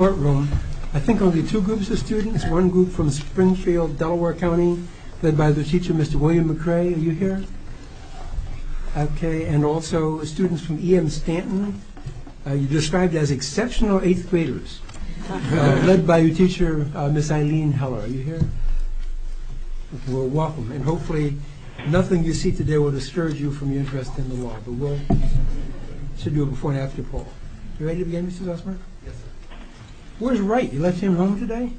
I think only two groups of students. One group from Springfield, Delaware County, led by the teacher, Mr. William McRae. Are you here? Okay. And also students from E.M. Stanton. You're described as exceptional eighth graders, led by your teacher, Miss Eileen Heller. Are you here? Well, welcome. And hopefully nothing you see today will discourage you from your interest in the law. But we'll do a before and after poll. You ready to begin, Mr. Zosmer? Yes, sir. Where's Wright? You left him home today?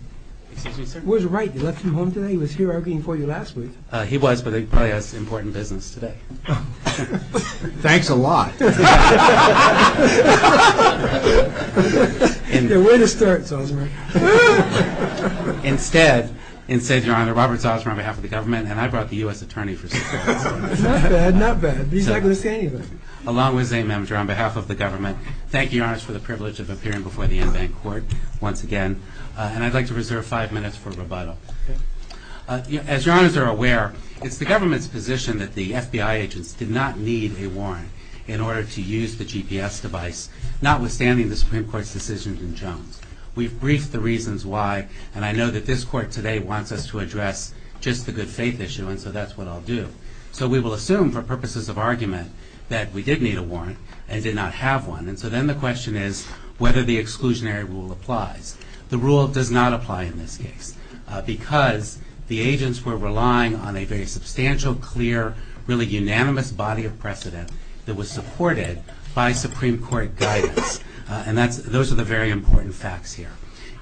Excuse me, sir? Where's Wright? You left him home today? He was here arguing for you last week. He was, but he probably has important business today. Thanks a lot. Way to start, Zosmer. Instead, in the name of Robert Zosmer, on behalf of the government, and I brought the U.S. Attorney. Not bad, not bad. He's not going to say anything. Along with Zayn Mamdur, on behalf of the government, thank you, Your Honor, for the privilege of appearing before the EnBanc Court once again. And I'd like to reserve five minutes for rebuttal. As Your Honors are aware, it's the government's position that the FBI agents did not need a warrant in order to use the GPS device, notwithstanding the Supreme Court's decision in Jones. We've briefed the reasons why, and I know that this Court today wants us to address just the good faith issue, and so that's what I'll do. So we will assume, for purposes of argument, that we did need a warrant and did not have one. And so then the question is whether the exclusionary rule applies. The rule does not apply in this case because the agents were relying on a very substantial, clear, really unanimous body of precedent that was supported by Supreme Court guidance. And those are the very important facts here.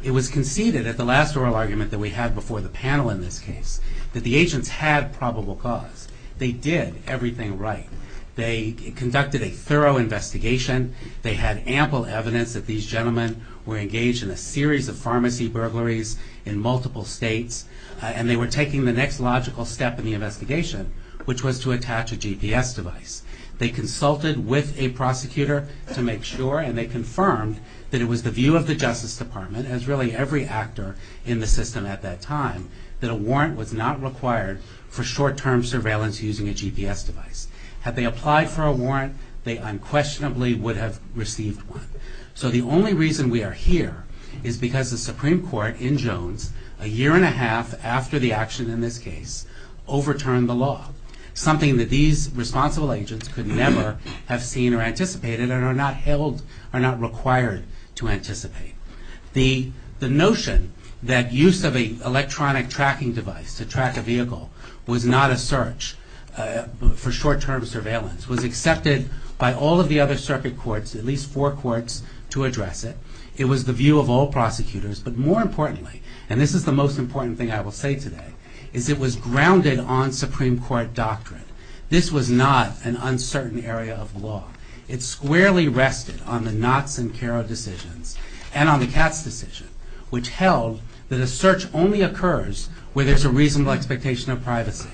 It was conceded at the last oral argument that we had before the panel in this case that the agents had probable cause. They did everything right. They conducted a thorough investigation. They had ample evidence that these gentlemen were engaged in a series of pharmacy burglaries in multiple states. And they were taking the next logical step in the investigation, which was to attach a GPS device. They consulted with a prosecutor to make sure, and they confirmed that it was the view of the Justice Department, as really every actor in the system at that time, that a warrant was not required for short-term surveillance using a GPS device. Had they applied for a warrant, they unquestionably would have received one. So the only reason we are here is because the Supreme Court in Jones, a year and a half after the action in this case, overturned the law, something that these responsible agents could never have seen or anticipated and are not held or not required to anticipate. The notion that use of an electronic tracking device to track a vehicle was not a search for short-term surveillance was accepted by all of the other circuit courts, at least four courts, to address it. It was the view of all prosecutors. But more importantly, and this is the most important thing I will say today, is it was grounded on Supreme Court doctrine. This was not an uncertain area of law. It squarely rested on the Knotts and Caro decisions and on the Katz decision, which held that a search only occurs where there's a reasonable expectation of privacy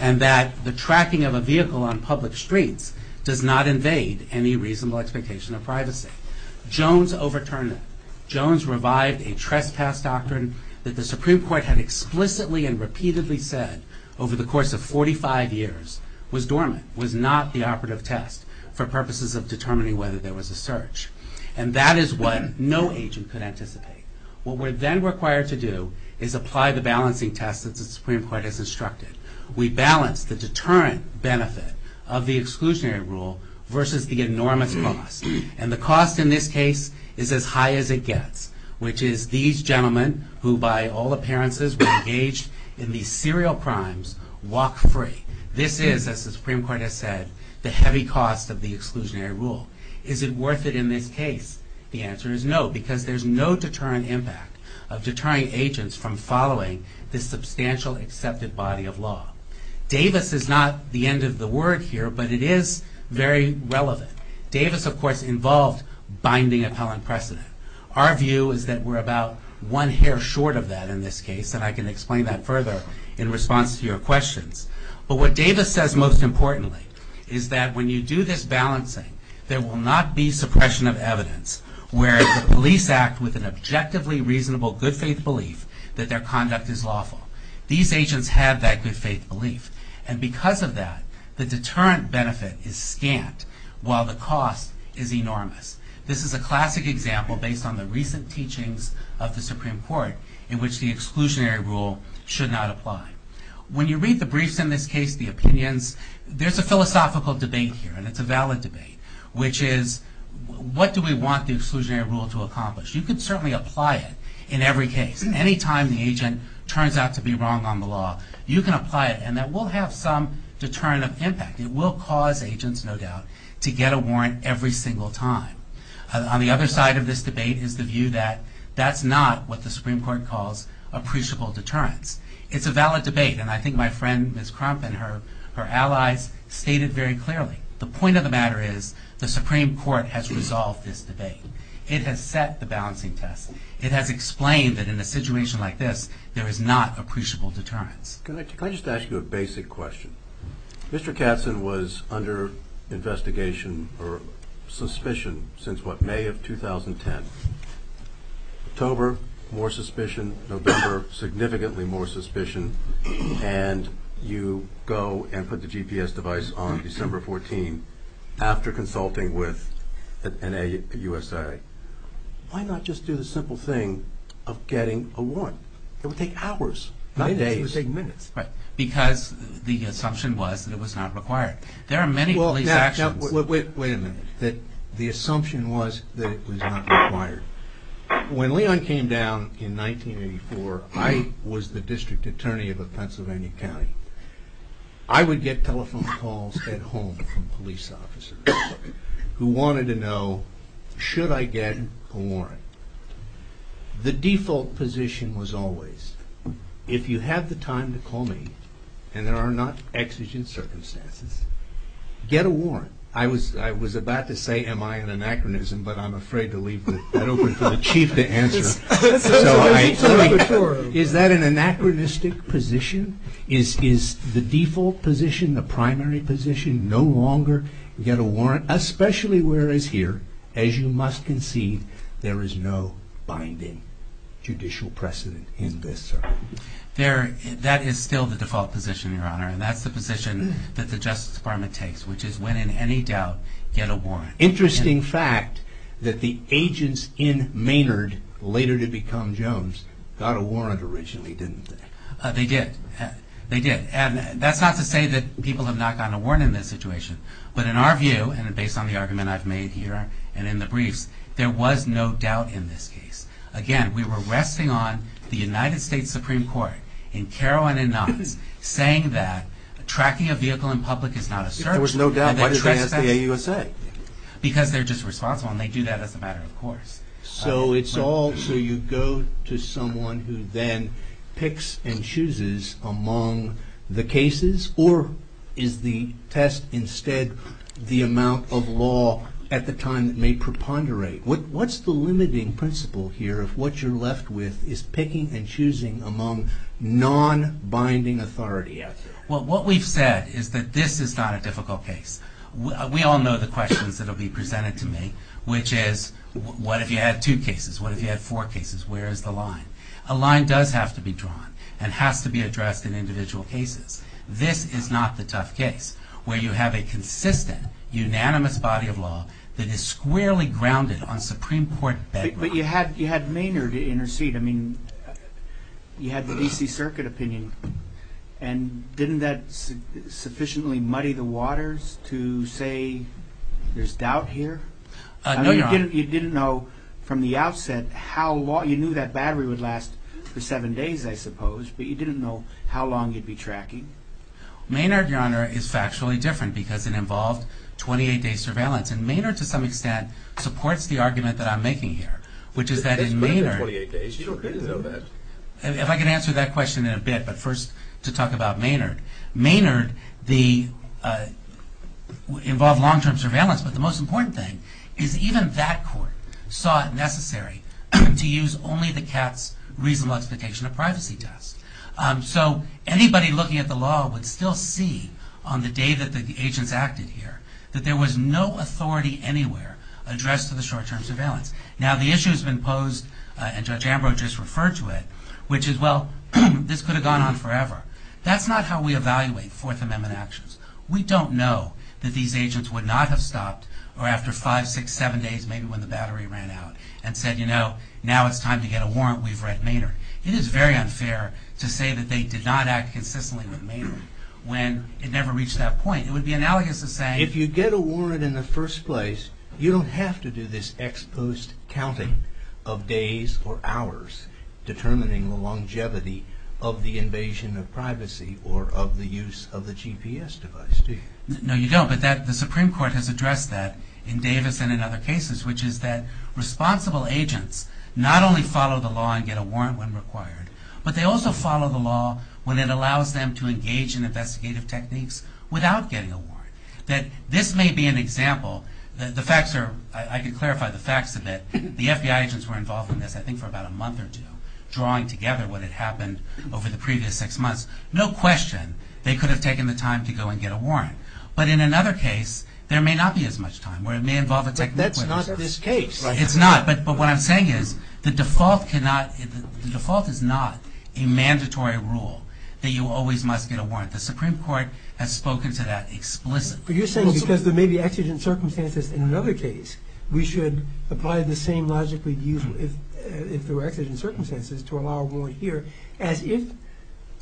and that the tracking of a vehicle on public streets does not invade any reasonable expectation of privacy. Jones overturned it. Jones revived a trespass doctrine that the Supreme Court had explicitly and repeatedly said over the course of 45 years was dormant, was not the operative test for purposes of determining whether there was a search. And that is what no agent could anticipate. What we're then required to do is apply the balancing test that the Supreme Court has instructed. We balance the deterrent benefit of the exclusionary rule versus the enormous cost. And the cost in this case is as high as it gets, which is these gentlemen, who by all appearances were engaged in these serial crimes, walk free. This is, as the Supreme Court has said, the heavy cost of the exclusionary rule. Is it worth it in this case? The answer is no, because there's no deterrent impact of deterring agents from following this substantial accepted body of law. Davis is not the end of the word here, but it is very relevant. Davis, of course, involved binding appellant precedent. Our view is that we're about one hair short of that in this case, and I can explain that further in response to your questions. But what Davis says most importantly is that when you do this balancing, there will not be suppression of evidence where the police act with an objectively reasonable good faith belief that their conduct is lawful. These agents have that good faith belief. And because of that, the deterrent benefit is scant while the cost is enormous. This is a classic example based on the recent teachings of the Supreme Court in which the exclusionary rule should not apply. When you read the briefs in this case, the opinions, there's a philosophical debate here, and it's a valid debate, which is what do we want the exclusionary rule to accomplish? You could certainly apply it in every case. Any time the agent turns out to be wrong on the law, you can apply it and that will have some deterrent of impact. It will cause agents, no doubt, to get a warrant every single time. On the other side of this debate is the view that that's not what the Supreme Court calls appreciable deterrence. It's a valid debate, and I think my friend, Ms. Crump, and her allies stated very clearly. The point of the matter is the Supreme Court has resolved this debate. It has set the balancing test. It has explained that in a situation like this, there is not appreciable deterrence. Can I just ask you a basic question? Mr. Katzen was under investigation or suspicion since, what, May of 2010. October, more suspicion. November, significantly more suspicion. And you go and put the GPS device on December 14 after consulting with an USA. Why not just do the simple thing of getting a warrant? It would take hours. Not days. It would take minutes. Because the assumption was that it was not required. There are many police actions. Wait a minute. The assumption was that it was not required. When Leon came down in 1984, I was the district attorney of a Pennsylvania county. I would get telephone calls at home from police officers who wanted to know, should I get a warrant? The default position was always, if you have the time to call me and there are not exigent circumstances, get a warrant. I was about to say, am I an anachronism, but I'm afraid to leave that open for the chief to answer. Is that an anachronistic position? Is the default position, the primary position, no longer get a warrant? Especially whereas here, as you must concede, there is no binding judicial precedent in this. That is still the default position, Your Honor. That's the position that the Justice Department takes, which is when in any doubt, get a warrant. Interesting fact that the agents in Maynard, later to become Jones, got a warrant originally, didn't they? They did. That's not to say that people have not gotten a warrant in this situation. But in our view, and based on the argument I've made here and in the briefs, there was no doubt in this case. Again, we were resting on the United States Supreme Court, in Carroll and in Knox, saying that tracking a vehicle in public is not a search warrant. There was no doubt. Why did they ask the AUSA? Because they're just responsible, and they do that as a matter of course. So it's all, so you go to someone who then picks and chooses among the cases? Or is the test instead the amount of law at the time that may preponderate? What's the limiting principle here of what you're left with is picking and choosing among non-binding authority out there? Well, what we've said is that this is not a difficult case. We all know the questions that will be presented to me, which is, what if you had two cases? What if you had four cases? Where is the line? A line does have to be drawn, and has to be addressed in individual cases. This is not the tough case, where you have a consistent, unanimous body of law that is squarely grounded on Supreme Court bedrock. But you had Maynard intercede. I mean, you had the D.C. Circuit opinion. And didn't that sufficiently muddy the waters to say there's doubt here? No, Your Honor. You didn't know from the outset how long, you knew that battery would last for seven days, I suppose. But you didn't know how long you'd be tracking. Maynard, Your Honor, is factually different, because it involved 28-day surveillance. And Maynard, to some extent, supports the argument that I'm making here, which is that in Maynard... It's been 28 days. You don't need to know that. If I can answer that question in a bit, but first to talk about Maynard. Maynard involved long-term surveillance, but the most important thing is even that court saw it necessary to use only the CATS reasonable expectation of privacy test. So anybody looking at the law would still see on the day that the agents acted here that there was no authority anywhere addressed to the short-term surveillance. Now, the issue has been posed, and Judge Ambrose just referred to it, which is, well, this could have gone on forever. That's not how we evaluate Fourth Amendment actions. We don't know that these agents would not have stopped, or after five, six, seven days, maybe when the battery ran out, and said, you know, now it's time to get a warrant. We've read Maynard. It is very unfair to say that they did not act consistently with Maynard when it never reached that point. It would be analogous to saying... If you get a warrant in the first place, you don't have to do this ex post counting of days or hours determining the longevity of the invasion of privacy or of the use of the GPS device, do you? No, you don't. But the Supreme Court has addressed that in Davis and in other cases, which is that responsible agents not only follow the law and get a warrant when required, but they also follow the law when it allows them to engage in investigative techniques without getting a warrant. That this may be an example. I could clarify the facts a bit. The FBI agents were involved in this, I think, for about a month or two, drawing together what had happened over the previous six months. No question they could have taken the time to go and get a warrant. But in another case, there may not be as much time. That's not this case. It's not. But what I'm saying is the default is not a mandatory rule that you always must get a warrant. The Supreme Court has spoken to that explicitly. But you're saying because there may be exigent circumstances in another case, we should apply the same logic if there were exigent circumstances to allow a warrant here as if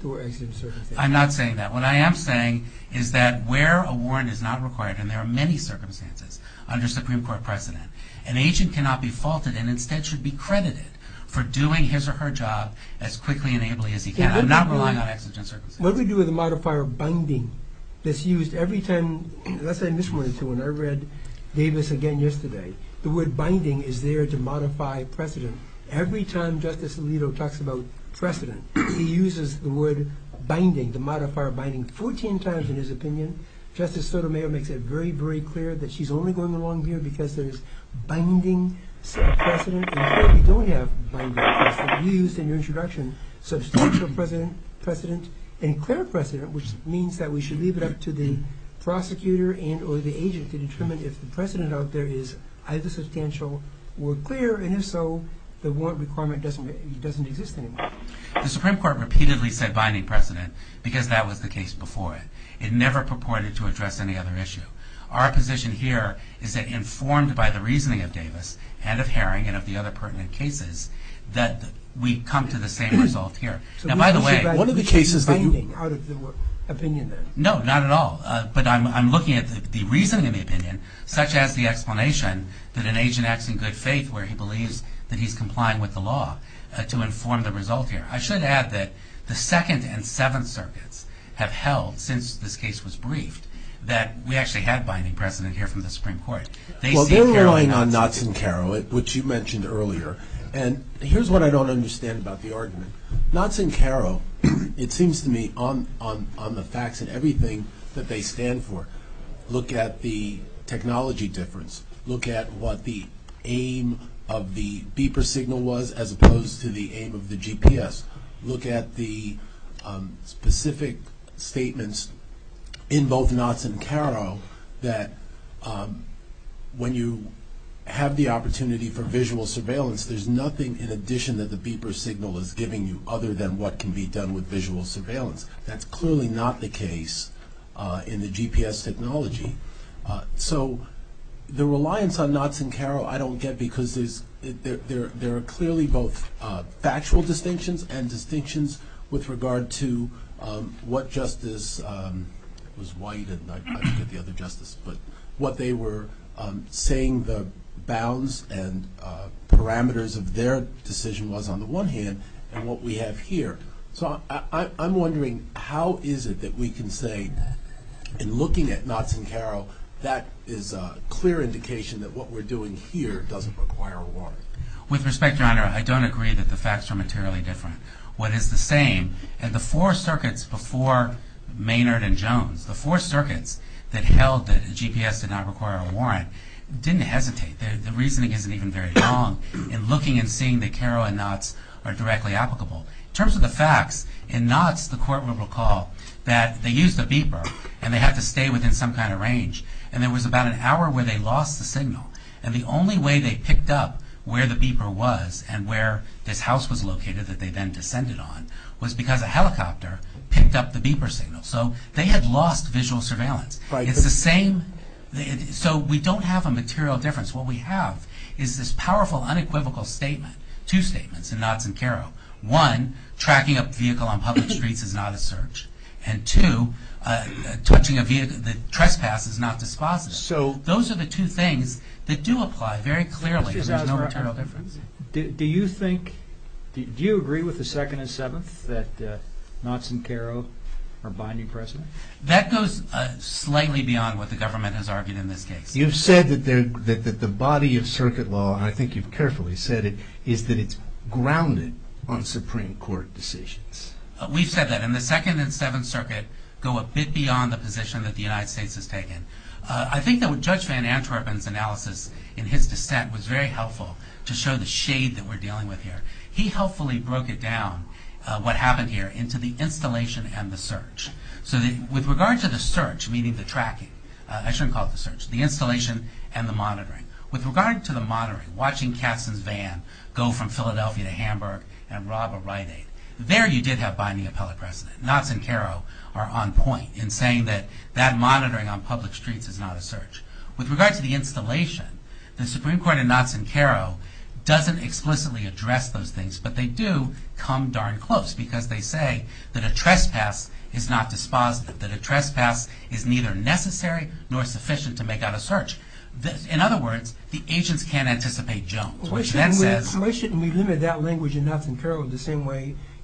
there were exigent circumstances. I'm not saying that. What I am saying is that where a warrant is not required, and there are many circumstances under Supreme Court precedent, an agent cannot be faulted and instead should be credited for doing his or her job as quickly and ably as he can. I'm not relying on exigent circumstances. What we do with the modifier binding that's used every time, let's say in this one, when I read Davis again yesterday, the word binding is there to modify precedent. Every time Justice Alito talks about precedent, he uses the word binding, the modifier binding, 14 times in his opinion. Justice Sotomayor makes it very, very clear that she's only going along here because there's binding precedent. And here we don't have binding precedent. You used in your introduction substantial precedent and clear precedent, which means that we should leave it up to the prosecutor and or the agent to determine if the precedent out there is either substantial or clear. And if so, the warrant requirement doesn't exist anymore. The Supreme Court repeatedly said binding precedent because that was the case before it. It never purported to address any other issue. Our position here is that informed by the reasoning of Davis and of Herring and of the other pertinent cases, that we come to the same result here. Now, by the way... One of the cases that you... ...binding out of the opinion there. No, not at all. But I'm looking at the reasoning of the opinion, such as the explanation that an agent acts in good faith, where he believes that he's complying with the law to inform the result here. I should add that the Second and Seventh Circuits have held, since this case was briefed, that we actually had binding precedent here from the Supreme Court. Well, they're relying on Knotts and Caro, which you mentioned earlier. Knotts and Caro, it seems to me, on the facts and everything that they stand for, look at the technology difference. Look at what the aim of the beeper signal was as opposed to the aim of the GPS. Look at the specific statements in both Knotts and Caro that when you have the opportunity for visual surveillance, there's nothing in addition that the beeper signal is giving you other than what can be done with visual surveillance. That's clearly not the case in the GPS technology. So the reliance on Knotts and Caro I don't get because there are clearly both factual distinctions and distinctions with regard to what justice... It was White and I forget the other justice. But what they were saying the bounds and parameters of their decision was on the one hand and what we have here. So I'm wondering how is it that we can say, in looking at Knotts and Caro, that is a clear indication that what we're doing here doesn't require a warrant. With respect, Your Honor, I don't agree that the facts are materially different. What is the same, and the four circuits before Maynard and Jones, the four circuits that held that GPS did not require a warrant, didn't hesitate. The reasoning isn't even very wrong in looking and seeing that Caro and Knotts are directly applicable. In terms of the facts, in Knotts the court would recall that they used a beeper and they had to stay within some kind of range. And there was about an hour where they lost the signal. And the only way they picked up where the beeper was and where this house was located that they then descended on was because a helicopter picked up the beeper signal. So they had lost visual surveillance. It's the same. So we don't have a material difference. What we have is this powerful, unequivocal statement, two statements in Knotts and Caro. One, tracking a vehicle on public streets is not a search. And two, touching a vehicle that trespasses is not dispositive. So those are the two things that do apply very clearly. There's no material difference. Do you agree with the Second and Seventh that Knotts and Caro are binding precedent? That goes slightly beyond what the government has argued in this case. You've said that the body of circuit law, and I think you've carefully said it, is that it's grounded on Supreme Court decisions. We've said that. And the Second and Seventh Circuit go a bit beyond the position that the United States has taken. I think that Judge Van Antwerpen's analysis in his dissent was very helpful to show the shade that we're dealing with here. He helpfully broke it down, what happened here, into the installation and the search. So with regard to the search, meaning the tracking, I shouldn't call it the search, the installation and the monitoring. With regard to the monitoring, watching Katzen's van go from Philadelphia to Hamburg and rob a Rite Aid, there you did have binding appellate precedent. Knotts and Caro are on point in saying that that monitoring on public streets is not a search. With regard to the installation, the Supreme Court in Knotts and Caro doesn't explicitly address those things, but they do come darn close because they say that a trespass is not dispositive, that a trespass is neither necessary nor sufficient to make out a search. In other words, the agents can't anticipate Jones.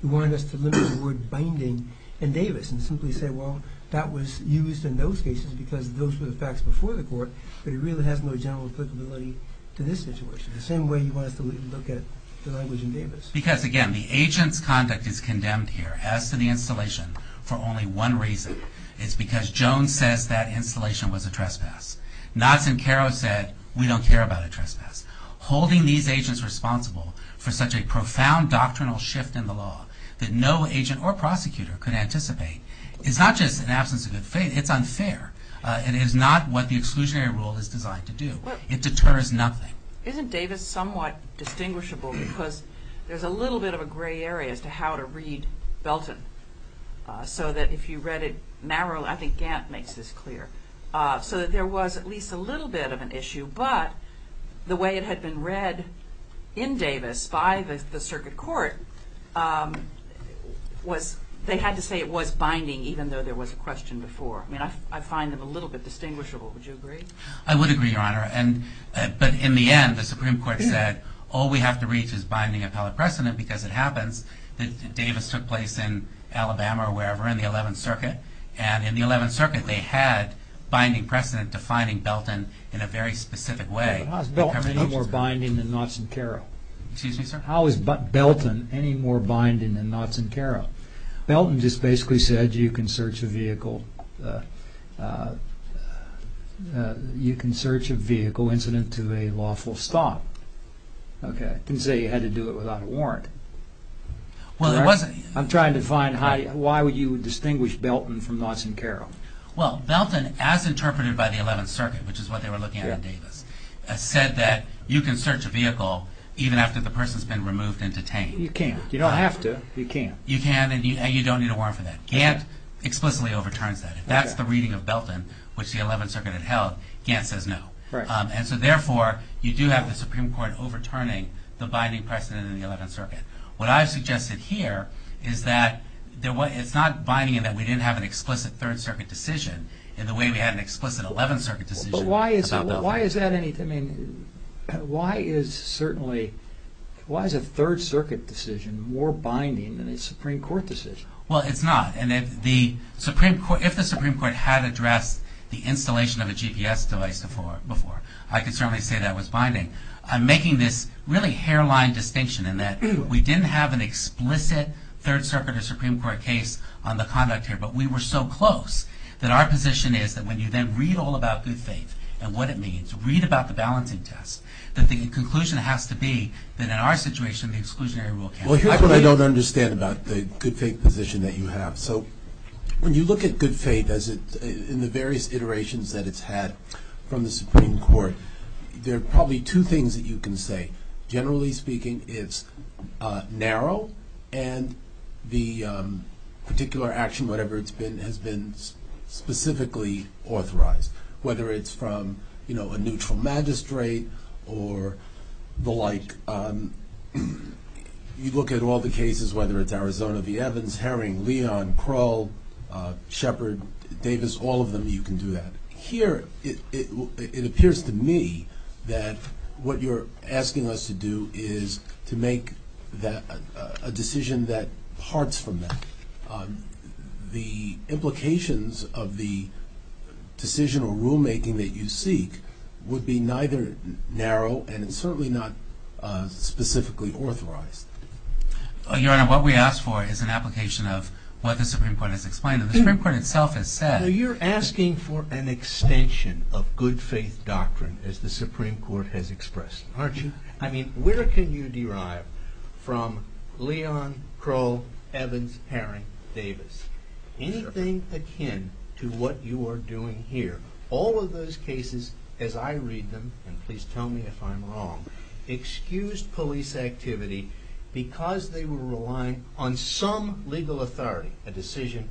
You wanted us to limit the word binding in Davis and simply say, well, that was used in those cases because those were the facts before the court, but it really has no general applicability to this situation, the same way you want us to look at the language in Davis. Because, again, the agent's conduct is condemned here, as to the installation, for only one reason. It's because Jones says that installation was a trespass. Knotts and Caro said, we don't care about a trespass. Holding these agents responsible for such a profound doctrinal shift in the law that no agent or prosecutor could anticipate is not just an absence of good faith. It's unfair. It is not what the exclusionary rule is designed to do. It deters nothing. Isn't Davis somewhat distinguishable because there's a little bit of a gray area as to how to read Belton, so that if you read it narrowly, I think Gant makes this clear, so that there was at least a little bit of an issue, but the way it had been read in Davis by the circuit court, they had to say it was binding, even though there was a question before. I find them a little bit distinguishable. Would you agree? I would agree, Your Honor. But in the end, the Supreme Court said, all we have to reach is binding appellate precedent because it happens And in the Eleventh Circuit, they had binding precedent defining Belton in a very specific way. But how is Belton any more binding than Knotts and Caro? Excuse me, sir? How is Belton any more binding than Knotts and Caro? Belton just basically said you can search a vehicle incident to a lawful stop. It didn't say you had to do it without a warrant. I'm trying to find why you would distinguish Belton from Knotts and Caro. Well, Belton, as interpreted by the Eleventh Circuit, which is what they were looking at in Davis, said that you can search a vehicle even after the person has been removed and detained. You can't. You don't have to. You can't. You can, and you don't need a warrant for that. Gant explicitly overturns that. If that's the reading of Belton, which the Eleventh Circuit had held, Gant says no. And so, therefore, you do have the Supreme Court overturning the binding precedent in the Eleventh Circuit. What I've suggested here is that it's not binding in that we didn't have an explicit Third Circuit decision in the way we had an explicit Eleventh Circuit decision about Belton. But why is a Third Circuit decision more binding than a Supreme Court decision? Well, it's not. If the Supreme Court had addressed the installation of a GPS device before, I could certainly say that was binding. I'm making this really hairline distinction in that we didn't have an explicit Third Circuit or Supreme Court case on the conduct here, but we were so close that our position is that when you then read all about good faith and what it means, read about the balancing test, that the conclusion has to be that in our situation, the exclusionary rule can't be applied. Well, here's what I don't understand about the good faith position that you have. So when you look at good faith in the various iterations that it's had from the Supreme Court, there are probably two things that you can say. Generally speaking, it's narrow, and the particular action, whatever it's been, has been specifically authorized, whether it's from a neutral magistrate or the like. You look at all the cases, whether it's Arizona v. Evans, Herring, Leon, Kroll, Shepard, Davis, all of them, you can do that. Here, it appears to me that what you're asking us to do is to make a decision that parts from that. The implications of the decision or rulemaking that you seek would be neither narrow and certainly not specifically authorized. Your Honor, what we ask for is an application of what the Supreme Court has explained, and the Supreme Court itself has said. You're asking for an extension of good faith doctrine, as the Supreme Court has expressed, aren't you? I mean, where can you derive from Leon, Kroll, Evans, Herring, Davis anything akin to what you are doing here? All of those cases, as I read them, and please tell me if I'm wrong, excused police activity because they were relying on some legal authority, a decision,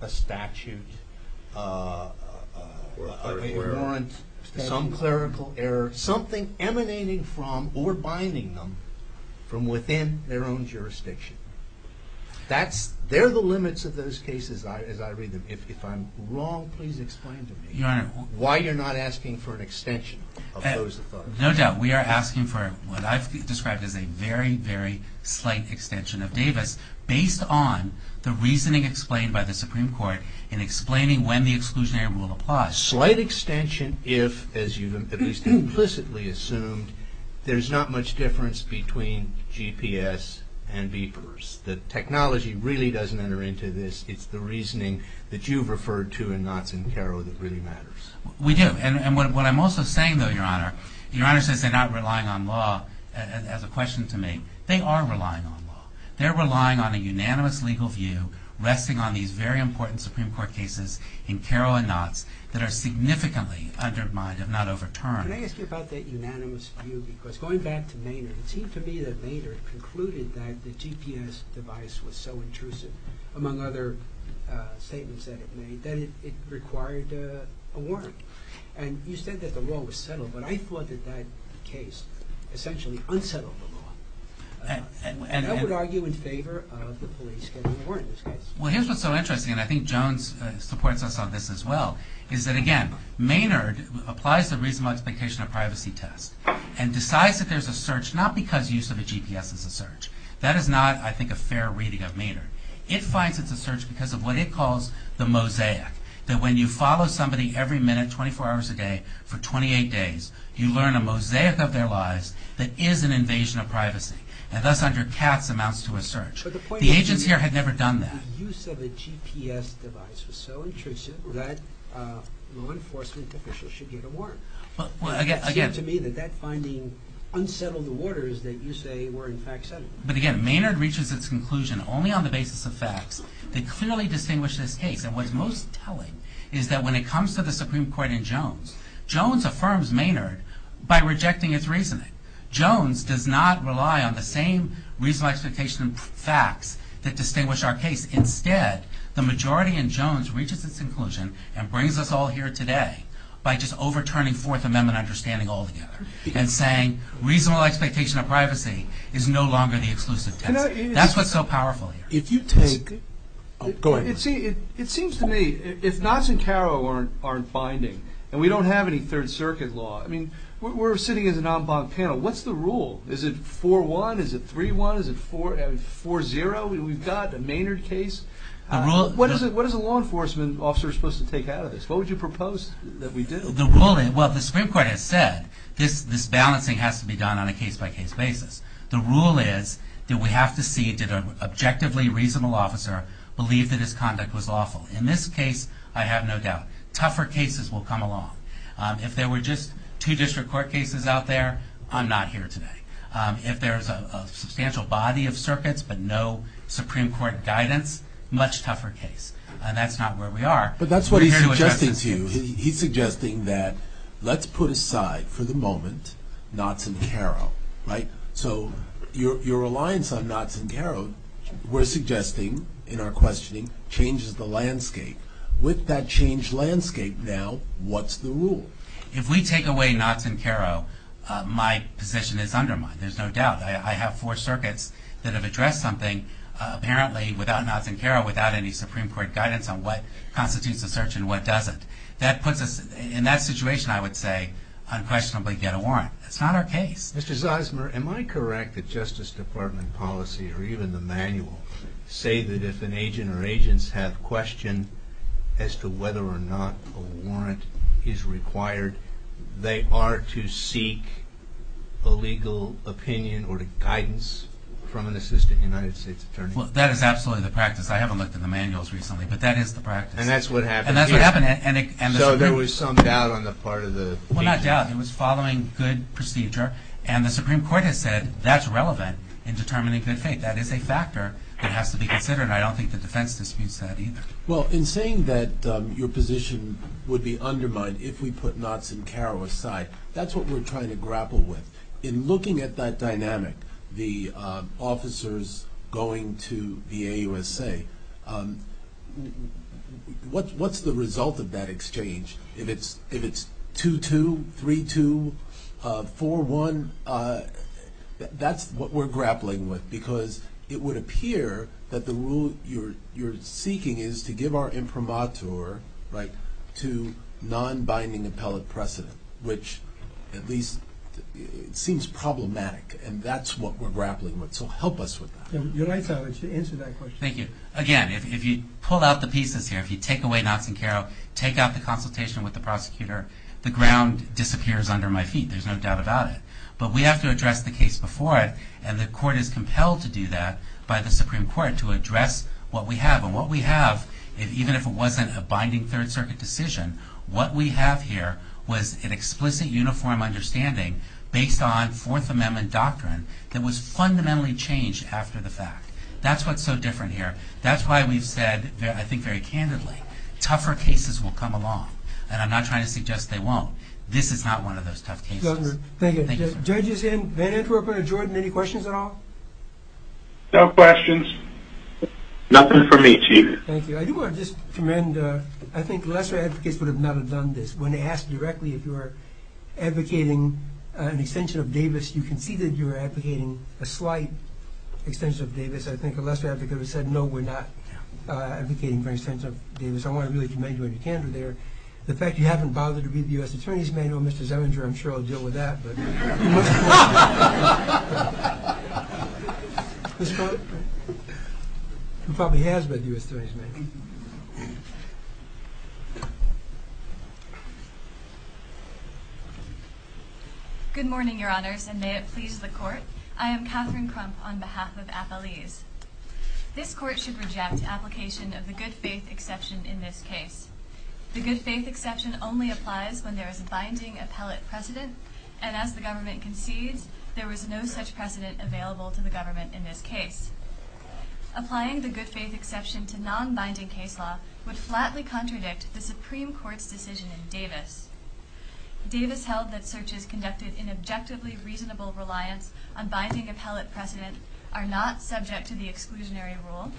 a statute, a warrant, some clerical error, something emanating from or binding them from within their own jurisdiction. They're the limits of those cases, as I read them. If I'm wrong, please explain to me why you're not asking for an extension of those authorities. No doubt we are asking for what I've described as a very, very slight extension of Davis, based on the reasoning explained by the Supreme Court in explaining when the exclusionary rule applies. Slight extension if, as you've at least implicitly assumed, there's not much difference between GPS and beepers. The technology really doesn't enter into this. It's the reasoning that you've referred to in Knotts and Carroll that really matters. We do. And what I'm also saying, though, Your Honor, Your Honor says they're not relying on law as a question to make. They are relying on law. They're relying on a unanimous legal view resting on these very important Supreme Court cases in Carroll and Knotts that are significantly undermined, if not overturned. Can I ask you about that unanimous view? Because going back to Maynard, it seemed to me that Maynard concluded that the GPS device was so intrusive, among other statements that it made, that it required a warrant. And you said that the law was settled, but I thought that that case essentially unsettled the law. And I would argue in favor of the police getting a warrant in this case. Well, here's what's so interesting, and I think Jones supports us on this as well, is that again, Maynard applies the reasonable expectation of privacy test and decides that there's a search not because use of a GPS is a search. That is not, I think, a fair reading of Maynard. It finds it's a search because of what it calls the mosaic. That when you follow somebody every minute, 24 hours a day, for 28 days, you learn a mosaic of their lives that is an invasion of privacy. And thus, under Katz, amounts to a search. The agents here had never done that. But the point is that the use of a GPS device was so intrusive that law enforcement officials should get a warrant. Well, again. It seemed to me that that finding unsettled the waters that you say were in fact settled. But again, Maynard reaches its conclusion only on the basis of facts that clearly distinguish this case. And what's most telling is that when it comes to the Supreme Court in Jones, Jones affirms Maynard by rejecting its reasoning. Jones does not rely on the same reasonable expectation of facts that distinguish our case. Instead, the majority in Jones reaches its conclusion and brings us all here today by just overturning Fourth Amendment understanding altogether. And saying reasonable expectation of privacy is no longer the exclusive test. That's what's so powerful here. Go ahead. It seems to me if Knotts and Caro aren't binding and we don't have any Third Circuit law, I mean, we're sitting as a non-bond panel. What's the rule? Is it 4-1? Is it 3-1? Is it 4-0? We've got a Maynard case. What is a law enforcement officer supposed to take out of this? What would you propose that we do? Well, the Supreme Court has said this balancing has to be done on a case-by-case basis. The rule is that we have to see did an objectively reasonable officer believe that his conduct was lawful. In this case, I have no doubt. Tougher cases will come along. If there were just two district court cases out there, I'm not here today. If there's a substantial body of circuits but no Supreme Court guidance, much tougher case. And that's not where we are. But that's what he's suggesting to you. He's suggesting that let's put aside for the moment Knotts and Caro, right? So your reliance on Knotts and Caro, we're suggesting in our questioning, changes the landscape. With that changed landscape now, what's the rule? If we take away Knotts and Caro, my position is undermined. There's no doubt. I have four circuits that have addressed something apparently without Knotts and Caro, without any Supreme Court guidance on what constitutes a search and what doesn't. That puts us in that situation, I would say, unquestionably get a warrant. That's not our case. Mr. Zeismer, am I correct that Justice Department policy, or even the manual, say that if an agent or agents have question as to whether or not a warrant is required, they are to seek a legal opinion or guidance from an assistant United States attorney? Well, that is absolutely the practice. I haven't looked at the manuals recently, but that is the practice. And that's what happened here. And that's what happened. So there was some doubt on the part of the agents. Well, not doubt. It was following good procedure. And the Supreme Court has said that's relevant in determining good faith. That is a factor that has to be considered. I don't think the defense disputes that either. Well, in saying that your position would be undermined if we put Knotts and Caro aside, that's what we're trying to grapple with. In looking at that dynamic, the officers going to the AUSA, what's the result of that exchange? If it's 2-2, 3-2, 4-1, that's what we're grappling with. Because it would appear that the rule you're seeking is to give our imprimatur to non-binding appellate precedent, which at least seems problematic. And that's what we're grappling with. So help us with that. You're right, Sal, to answer that question. Thank you. Again, if you pull out the pieces here, if you take away Knotts and Caro, take out the consultation with the prosecutor, the ground disappears under my feet. There's no doubt about it. But we have to address the case before it, and the court is compelled to do that by the Supreme Court to address what we have. And what we have, even if it wasn't a binding Third Circuit decision, what we have here was an explicit uniform understanding based on Fourth Amendment doctrine that was fundamentally changed after the fact. That's what's so different here. That's why we've said, I think very candidly, tougher cases will come along. And I'm not trying to suggest they won't. This is not one of those tough cases. Thank you. Judges in Van Antwerpen or Jordan, any questions at all? No questions. Nothing from me, Chief. Thank you. I do want to just commend, I think lesser advocates would not have done this. When asked directly if you were advocating an extension of Davis, you conceded you were advocating a slight extension of Davis. I think a lesser advocate would have said, no, we're not advocating for an extension of Davis. I want to really commend you on your candor there. The fact you haven't bothered to read the U.S. Attorney's Manual of Mr. Zeminger, I'm sure I'll deal with that. But you must quote him. This quote? He probably has read the U.S. Attorney's Manual. Good morning, Your Honors, and may it please the Court. I am Katherine Crump on behalf of Appellees. This Court should reject application of the good-faith exception in this case. The good-faith exception only applies when there is a binding appellate precedent, and as the government concedes, there was no such precedent available to the government in this case. Applying the good-faith exception to non-binding case law would flatly contradict the Supreme Court's decision in Davis. Davis held that searches conducted in objectively reasonable reliance on binding appellate precedent are not subject to the exclusionary rule,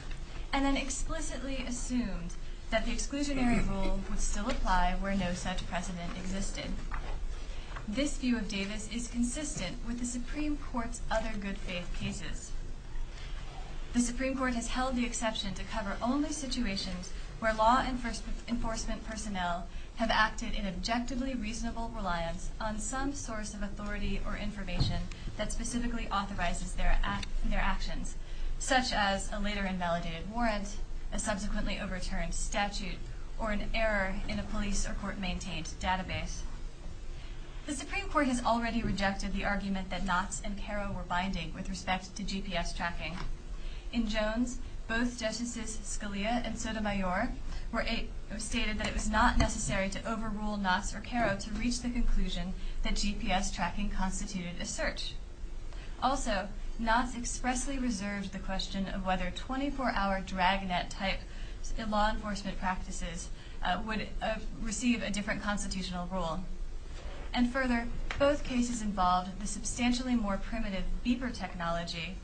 and then explicitly assumed that the exclusionary rule would still apply where no such precedent existed. This view of Davis is consistent with the Supreme Court's other good-faith cases. The Supreme Court has held the exception to cover only situations where law enforcement personnel have acted in objectively reasonable reliance on some source of authority or information that specifically authorizes their actions, such as a later invalidated warrant, a subsequently overturned statute, or an error in a police or court-maintained database. The Supreme Court has already rejected the argument that Knotts and Caro were binding with respect to GPS tracking. In Jones, both Justices Scalia and Sotomayor stated that it was not necessary to overrule Knotts or Caro to reach the conclusion that GPS tracking constituted a search. Also, Knotts expressly reserved the question of whether 24-hour dragnet-type law enforcement practices would receive a different constitutional rule. And further, both cases involved the substantially more primitive beeper technology,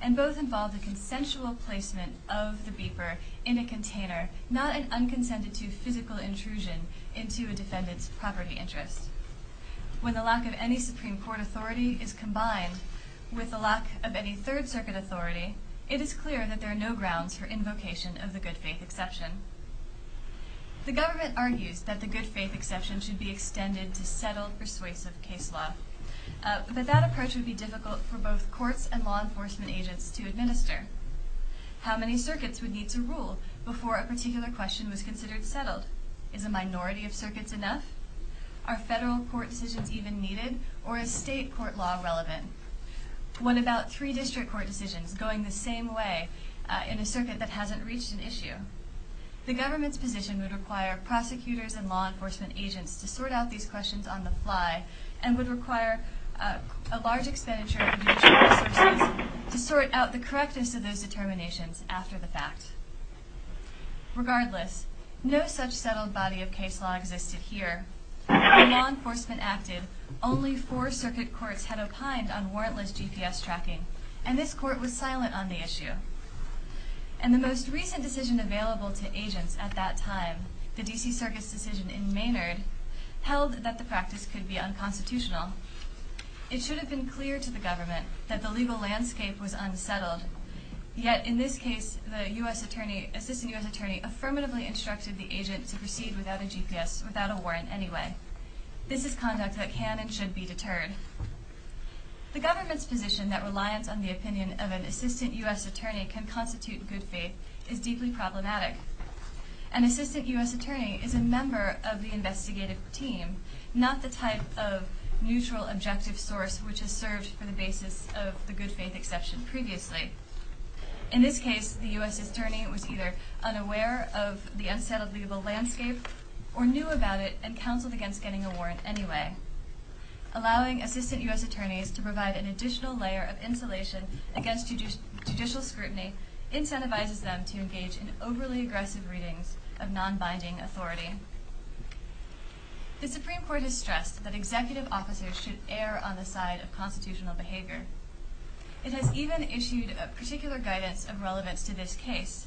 and both involved a consensual placement of the beeper in a container, not an unconsented-to physical intrusion into a defendant's property interest. When the lack of any Supreme Court authority is combined with the lack of any Third Circuit authority, it is clear that there are no grounds for invocation of the good-faith exception. The government argues that the good-faith exception should be extended to settled persuasive case law, but that approach would be difficult for both courts and law enforcement agents to administer. How many circuits would need to rule before a particular question was considered settled? Is a minority of circuits enough? Are federal court decisions even needed, or is state court law relevant? What about three district court decisions going the same way in a circuit that hasn't reached an issue? The government's position would require prosecutors and law enforcement agents to sort out these questions on the fly and would require a large expenditure of judicial resources to sort out the correctness of those determinations after the fact. Regardless, no such settled body of case law existed here. When law enforcement acted, only four circuit courts had opined on warrantless GPS tracking, and this court was silent on the issue. And the most recent decision available to agents at that time, the D.C. Circus decision in Maynard, held that the practice could be unconstitutional. It should have been clear to the government that the legal landscape was unsettled, yet in this case the assistant U.S. attorney affirmatively instructed the agent to proceed without a GPS, without a warrant anyway. This is conduct that can and should be deterred. The government's position that reliance on the opinion of an assistant U.S. attorney can constitute good faith is deeply problematic. An assistant U.S. attorney is a member of the investigative team, not the type of neutral objective source which has served for the basis of the good faith exception previously. In this case, the U.S. attorney was either unaware of the unsettled legal landscape or knew about it and counseled against getting a warrant anyway. Allowing assistant U.S. attorneys to provide an additional layer of insulation against judicial scrutiny incentivizes them to engage in overly aggressive readings of non-binding authority. The Supreme Court has stressed that executive officers should err on the side of constitutional behavior. It has even issued a particular guidance of relevance to this case.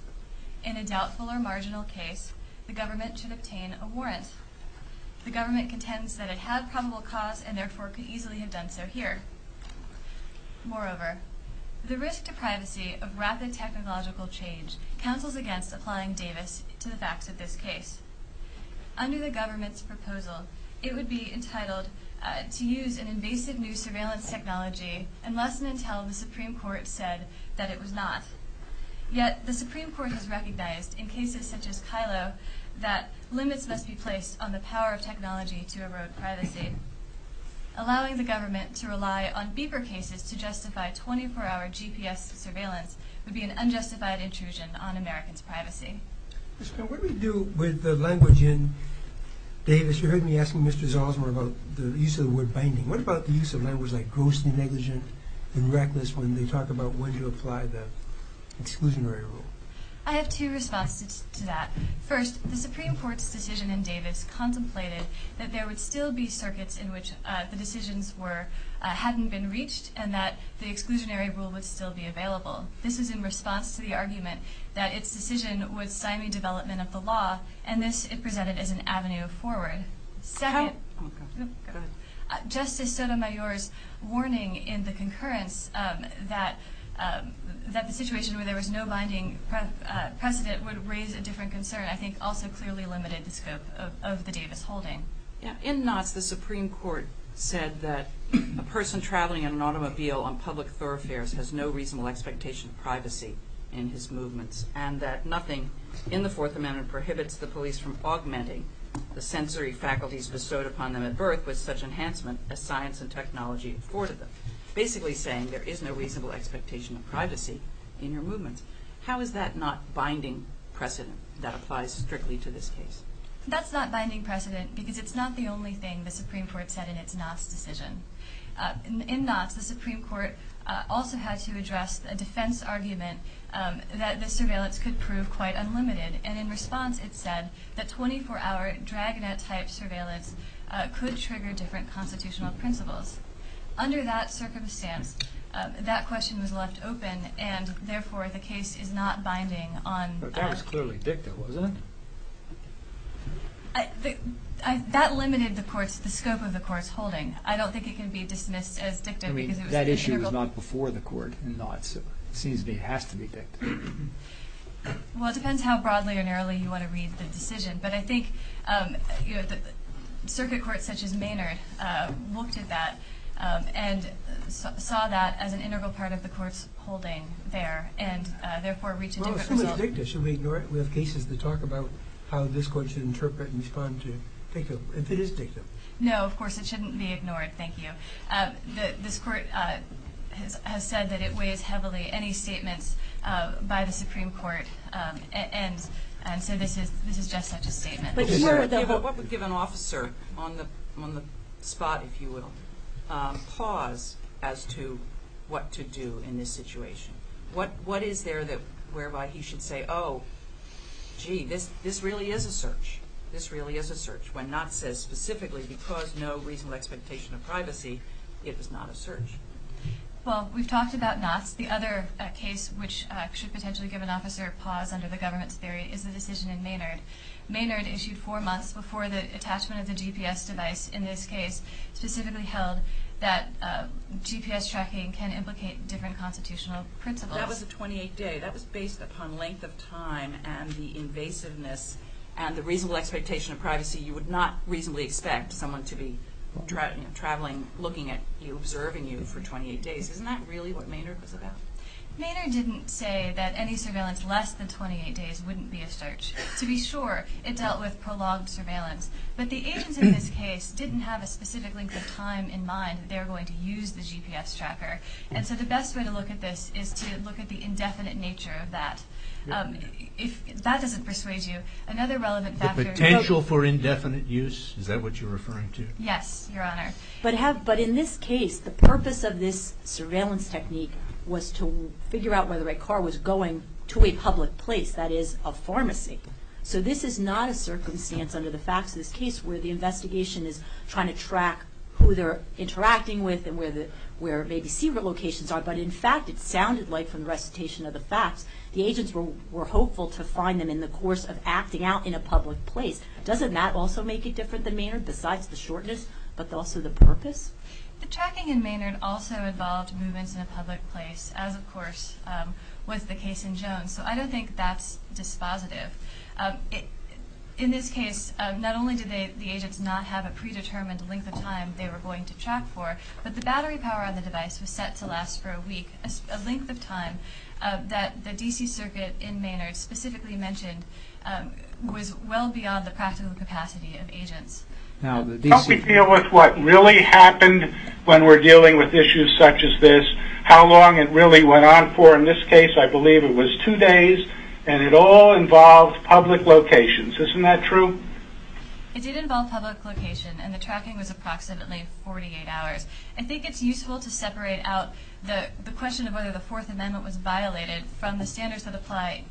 In a doubtful or marginal case, the government should obtain a warrant. The government contends that it had probable cause and therefore could easily have done so here. Moreover, the risk to privacy of rapid technological change counsels against applying Davis to the facts of this case. Under the government's proposal, it would be entitled to use an invasive new surveillance technology unless and until the Supreme Court said that it was not. Yet the Supreme Court has recognized in cases such as Kylo that limits must be placed on the power of technology to erode privacy. Allowing the government to rely on beeper cases to justify 24-hour GPS surveillance would be an unjustified intrusion on Americans' privacy. What do we do with the language in Davis? You heard me asking Mr. Zalzman about the use of the word binding. What about the use of language like grossly negligent and reckless when they talk about when to apply the exclusionary rule? I have two responses to that. First, the Supreme Court's decision in Davis contemplated that there would still be circuits in which the decisions hadn't been reached and that the exclusionary rule would still be available. This was in response to the argument that its decision would stymie development of the law, and this it presented as an avenue forward. Second, Justice Sotomayor's warning in the concurrence that the situation where there was no binding precedent would raise a different concern I think also clearly limited the scope of the Davis holding. In Knotts, the Supreme Court said that a person traveling in an automobile on public thoroughfares has no reasonable expectation of privacy in his movements and that nothing in the Fourth Amendment prohibits the police from augmenting the sensory faculties bestowed upon them at birth with such enhancement as science and technology afforded them, basically saying there is no reasonable expectation of privacy in your movements. How is that not binding precedent that applies strictly to this case? That's not binding precedent because it's not the only thing the Supreme Court said in its Knotts decision. In Knotts, the Supreme Court also had to address a defense argument that the surveillance could prove quite unlimited, and in response it said that 24-hour dragnet-type surveillance could trigger different constitutional principles. Under that circumstance, that question was left open, and therefore the case is not binding on – But that was clearly dicta, wasn't it? That limited the court's – the scope of the court's holding. I don't think it can be dismissed as dicta because it was – I mean, that issue was not before the court in Knotts, so it seems to me it has to be dicta. Well, it depends how broadly or narrowly you want to read the decision, but I think circuit courts such as Maynard looked at that and saw that as an integral part of the court's holding there and therefore reached a different result. No, it's dicta. Should we ignore it? We have cases that talk about how this court should interpret and respond to dicta, if it is dicta. No, of course it shouldn't be ignored. Thank you. This court has said that it weighs heavily any statements by the Supreme Court, and so this is just such a statement. What would give an officer on the spot, if you will, pause as to what to do in this situation? What is there that – whereby he should say, oh, gee, this really is a search, this really is a search, when Knotts says specifically because no reasonable expectation of privacy, it is not a search? Well, we've talked about Knotts. The other case which should potentially give an officer a pause under the government's theory is the decision in Maynard. Maynard issued four months before the attachment of the GPS device in this case specifically held that GPS tracking can implicate different constitutional principles. That was a 28-day. That was based upon length of time and the invasiveness and the reasonable expectation of privacy. You would not reasonably expect someone to be traveling, looking at you, observing you for 28 days. Isn't that really what Maynard was about? Maynard didn't say that any surveillance less than 28 days wouldn't be a search. To be sure, it dealt with prolonged surveillance. But the agents in this case didn't have a specific length of time in mind that they were going to use the GPS tracker. And so the best way to look at this is to look at the indefinite nature of that. If that doesn't persuade you, another relevant factor – The potential for indefinite use, is that what you're referring to? Yes, Your Honor. But in this case, the purpose of this surveillance technique was to figure out whether a car was going to a public place, that is, a pharmacy. So this is not a circumstance, under the facts of this case, where the investigation is trying to track who they're interacting with and where maybe secret locations are. But in fact, it sounded like, from the recitation of the facts, the agents were hopeful to find them in the course of acting out in a public place. Doesn't that also make it different than Maynard, besides the shortness, but also the purpose? The tracking in Maynard also involved movements in a public place, as, of course, was the case in Jones. So I don't think that's dispositive. In this case, not only did the agents not have a predetermined length of time they were going to track for, but the battery power on the device was set to last for a week, a length of time that the D.C. Circuit in Maynard specifically mentioned was well beyond the practical capacity of agents. Now, the D.C. Help me deal with what really happened when we're dealing with issues such as this, how long it really went on for. In this case, I believe it was two days, and it all involved public locations. Isn't that true? It did involve public location, and the tracking was approximately 48 hours. I think it's useful to separate out the question of whether the Fourth Amendment was violated from the standards that apply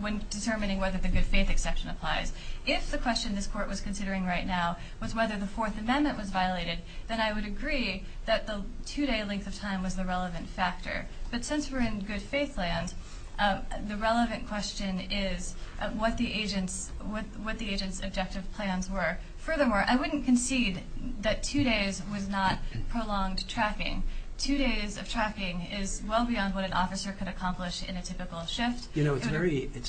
when determining whether the good faith exception applies. If the question this Court was considering right now was whether the Fourth Amendment was violated, then I would agree that the two-day length of time was the relevant factor. But since we're in good faith land, the relevant question is what the agents' objective plans were. Furthermore, I wouldn't concede that two days was not prolonged tracking. Two days of tracking is well beyond what an officer could accomplish in a typical shift. You know, it's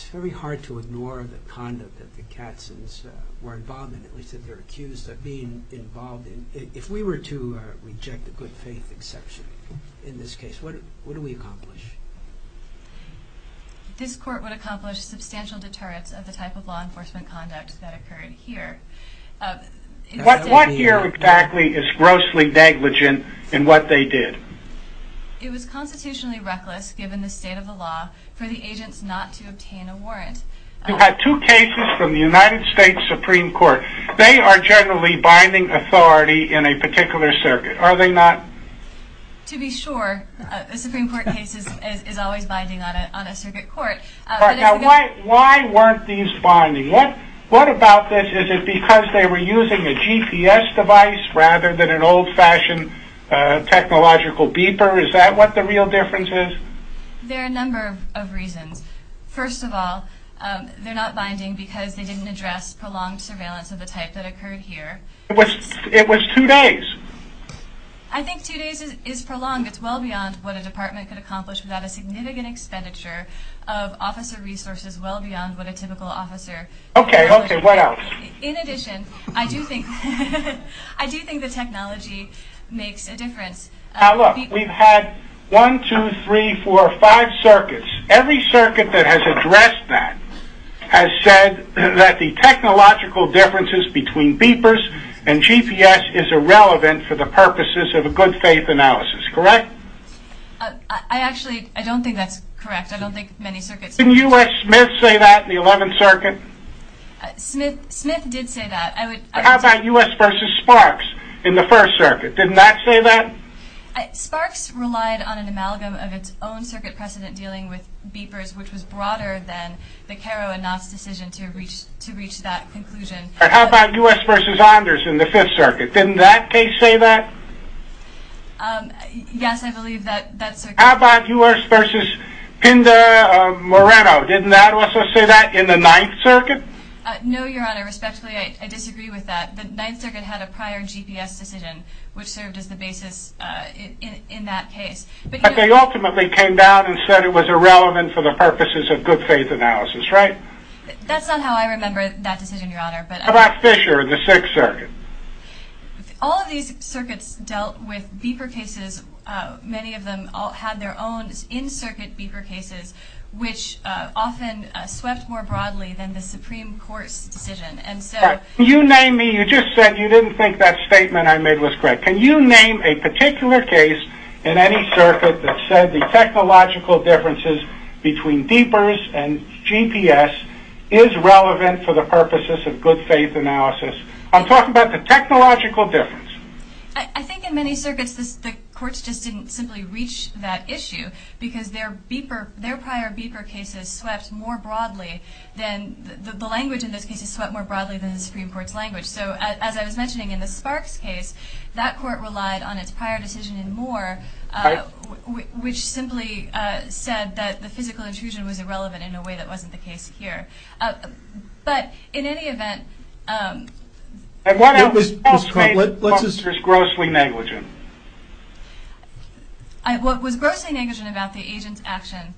very hard to ignore the conduct that the Katzins were involved in, or at least that they're accused of being involved in. If we were to reject the good faith exception in this case, what do we accomplish? This Court would accomplish substantial deterrence of the type of law enforcement conduct that occurred here. What here exactly is grossly negligent in what they did? It was constitutionally reckless, given the state of the law, for the agents not to obtain a warrant. You had two cases from the United States Supreme Court. They are generally binding authority in a particular circuit, are they not? To be sure. The Supreme Court case is always binding on a circuit court. Why weren't these binding? What about this? Is it because they were using a GPS device rather than an old-fashioned technological beeper? Is that what the real difference is? There are a number of reasons. First of all, they're not binding because they didn't address prolonged surveillance of the type that occurred here. It was two days. I think two days is prolonged. It's well beyond what a department could accomplish without a significant expenditure of officer resources, well beyond what a typical officer could accomplish. Okay, okay. What else? In addition, I do think the technology makes a difference. Look, we've had one, two, three, four, five circuits. Every circuit that has addressed that has said that the technological differences between beepers and GPS is irrelevant for the purposes of a good-faith analysis, correct? I actually don't think that's correct. I don't think many circuits do. Didn't U.S. Smith say that in the 11th Circuit? Smith did say that. How about U.S. versus Sparks in the 1st Circuit? Didn't that say that? Sparks relied on an amalgam of its own circuit precedent dealing with beepers, which was broader than the Caro and Knott's decision to reach that conclusion. How about U.S. versus Anders in the 5th Circuit? Didn't that case say that? Yes, I believe that circuit did. How about U.S. versus Pindar-Moreno? Didn't that also say that in the 9th Circuit? No, Your Honor. Respectfully, I disagree with that. The 9th Circuit had a prior GPS decision, which served as the basis in that case. But they ultimately came down and said it was irrelevant for the purposes of good-faith analysis, right? That's not how I remember that decision, Your Honor. How about Fisher in the 6th Circuit? All of these circuits dealt with beeper cases. Many of them all had their own in-circuit beeper cases, which often swept more broadly than the Supreme Court's decision. You named me. You just said you didn't think that statement I made was correct. Can you name a particular case in any circuit that said the technological differences between beepers and GPS is relevant for the purposes of good-faith analysis? I'm talking about the technological difference. I think in many circuits the courts just didn't simply reach that issue because their prior beeper cases swept more broadly than the Supreme Court's language. So as I was mentioning in the Sparks case, that court relied on its prior decision in Moore, which simply said that the physical intrusion was irrelevant in a way that wasn't the case here. But in any event, What was grossly negligent? What was grossly negligent about the agent's action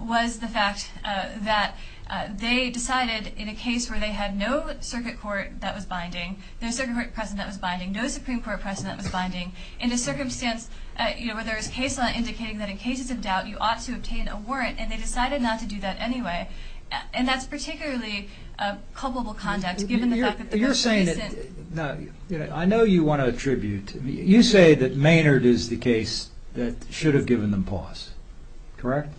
was the fact that they decided, in a case where they had no circuit court that was binding, no circuit court precedent that was binding, no Supreme Court precedent that was binding, in a circumstance where there was case law indicating that in cases of doubt you ought to obtain a warrant, and they decided not to do that anyway. And that's particularly culpable conduct given the fact that the person isn't I know you want to attribute... You say that Maynard is the case that should have given them pause. Correct?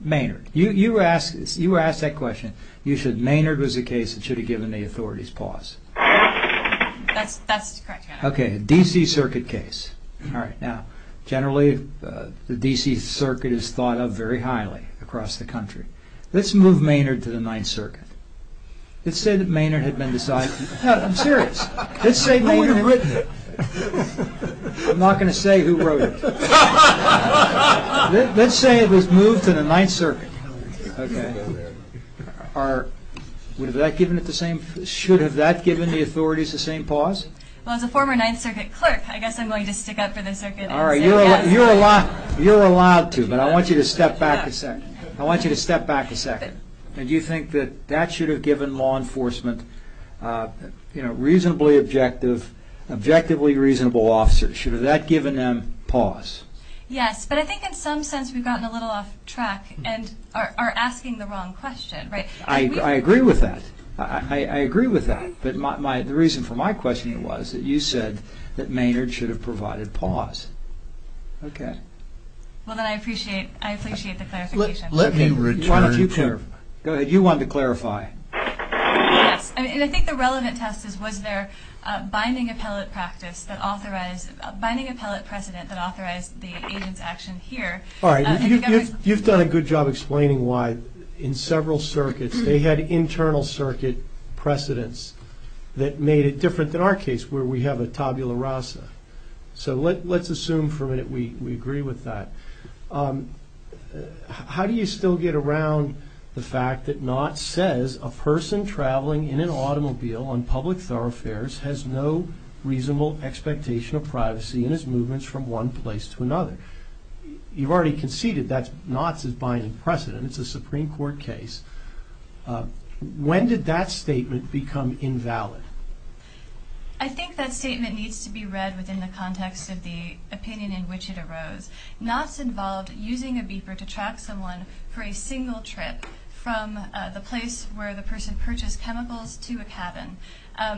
Maynard. You were asked that question. You said Maynard was the case that should have given the authorities pause. That's correct, Your Honor. Okay, a D.C. Circuit case. Now, generally, the D.C. Circuit is thought of very highly across the country. Let's move Maynard to the Ninth Circuit. Let's say that Maynard had been decided... No, I'm serious. Let's say Maynard... No one had written it. I'm not going to say who wrote it. Let's say it was moved to the Ninth Circuit. Okay. Would have that given it the same... Should have that given the authorities the same pause? Well, as a former Ninth Circuit clerk, I guess I'm going to stick up for the circuit. All right, you're allowed to, but I want you to step back a second. I want you to step back a second. Do you think that that should have given law enforcement, you know, reasonably objective, objectively reasonable officers, should have that given them pause? Yes, but I think in some sense we've gotten a little off track and are asking the wrong question. I agree with that. I agree with that. But the reason for my question was that you said that Maynard should have provided pause. Okay. Well, then I appreciate the clarification. Let me return to... Why don't you clarify? Go ahead. You wanted to clarify. Yes. And I think the relevant test is was there binding appellate practice that authorized, binding appellate precedent that authorized the agent's action here. All right. You've done a good job explaining why in several circuits they had internal circuit precedents that made it different than our case where we have a tabula rasa. So let's assume for a minute we agree with that. How do you still get around the fact that Knott says a person traveling in an automobile on public thoroughfares has no reasonable expectation of privacy in his movements from one place to another? You've already conceded that Knott's is binding precedent. It's a Supreme Court case. When did that statement become invalid? I think that statement needs to be read within the context of the opinion in which it arose. Knott's involved using a beeper to track someone for a single trip from the place where the person purchased chemicals to a cabin. All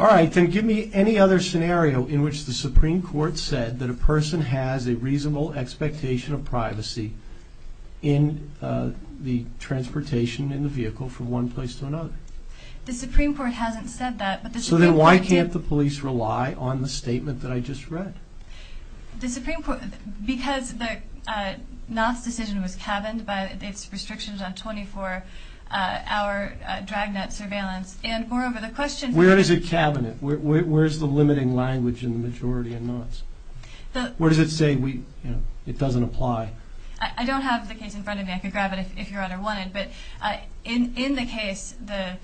right. Then give me any other scenario in which the Supreme Court said that a person has a reasonable expectation of privacy in the transportation in the vehicle from one place to another. The Supreme Court hasn't said that. So then why can't the police rely on the statement that I just read? Because Knott's decision was cabined by its restrictions on 24-hour dragnet surveillance. And moreover, the question is... Where is it cabined? Where is the limiting language in the majority in Knott's? Where does it say it doesn't apply? I don't have the case in front of me. I could grab it if Your Honor wanted. But in the case, the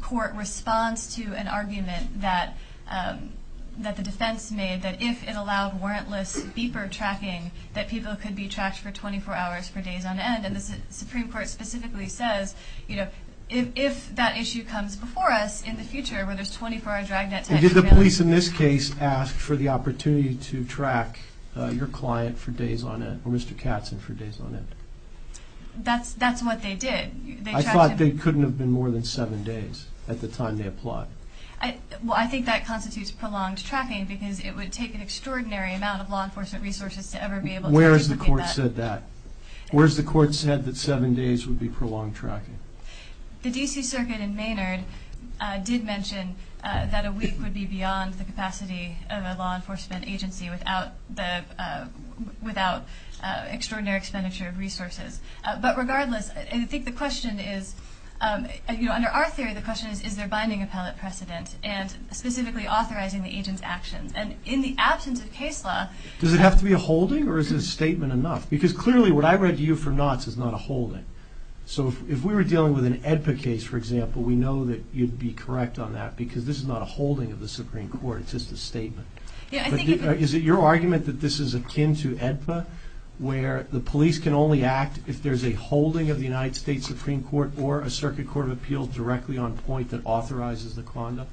court responds to an argument that the defense made that if it allowed warrantless beeper tracking, that people could be tracked for 24 hours for days on end. And the Supreme Court specifically says, you know, if that issue comes before us in the future where there's 24-hour dragnet type surveillance... Did the police in this case ask for the opportunity to track your client for days on end or Mr. Katzen for days on end? That's what they did. I thought they couldn't have been more than seven days at the time they applied. Well, I think that constitutes prolonged tracking because it would take an extraordinary amount of law enforcement resources to ever be able to duplicate that. Where has the court said that? Where has the court said that seven days would be prolonged tracking? The D.C. Circuit in Maynard did mention that a week would be beyond the capacity of a law enforcement agency without extraordinary expenditure of resources. But regardless, I think the question is, you know, under our theory, the question is, is there binding appellate precedent and specifically authorizing the agent's actions? And in the absence of case law... Does it have to be a holding or is this statement enough? Because clearly what I read to you from Knott's is not a holding. So if we were dealing with an AEDPA case, for example, we know that you'd be correct on that because this is not a holding of the Supreme Court. It's just a statement. Yeah, I think... Is it your argument that this is akin to AEDPA where the police can only act if there's a holding of the United States Supreme Court or a Circuit Court of Appeals directly on point that authorizes the conduct?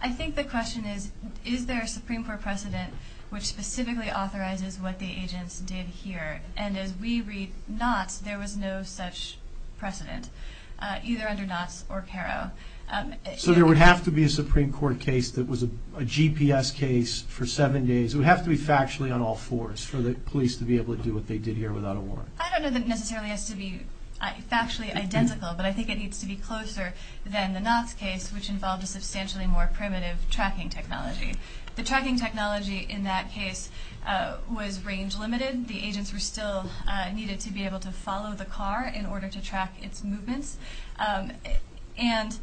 I think the question is, is there a Supreme Court precedent which specifically authorizes what the agents did here? And as we read Knott's, there was no such precedent, either under Knott's or Caro. So there would have to be a Supreme Court case that was a GPS case for seven days. It would have to be factually on all fours for the police to be able to do what they did here without a warrant. I don't know that it necessarily has to be factually identical, but I think it needs to be closer than the Knott's case, which involved a substantially more primitive tracking technology. The tracking technology in that case was range-limited. The agents were still needed to be able to follow the car in order to track its movements. And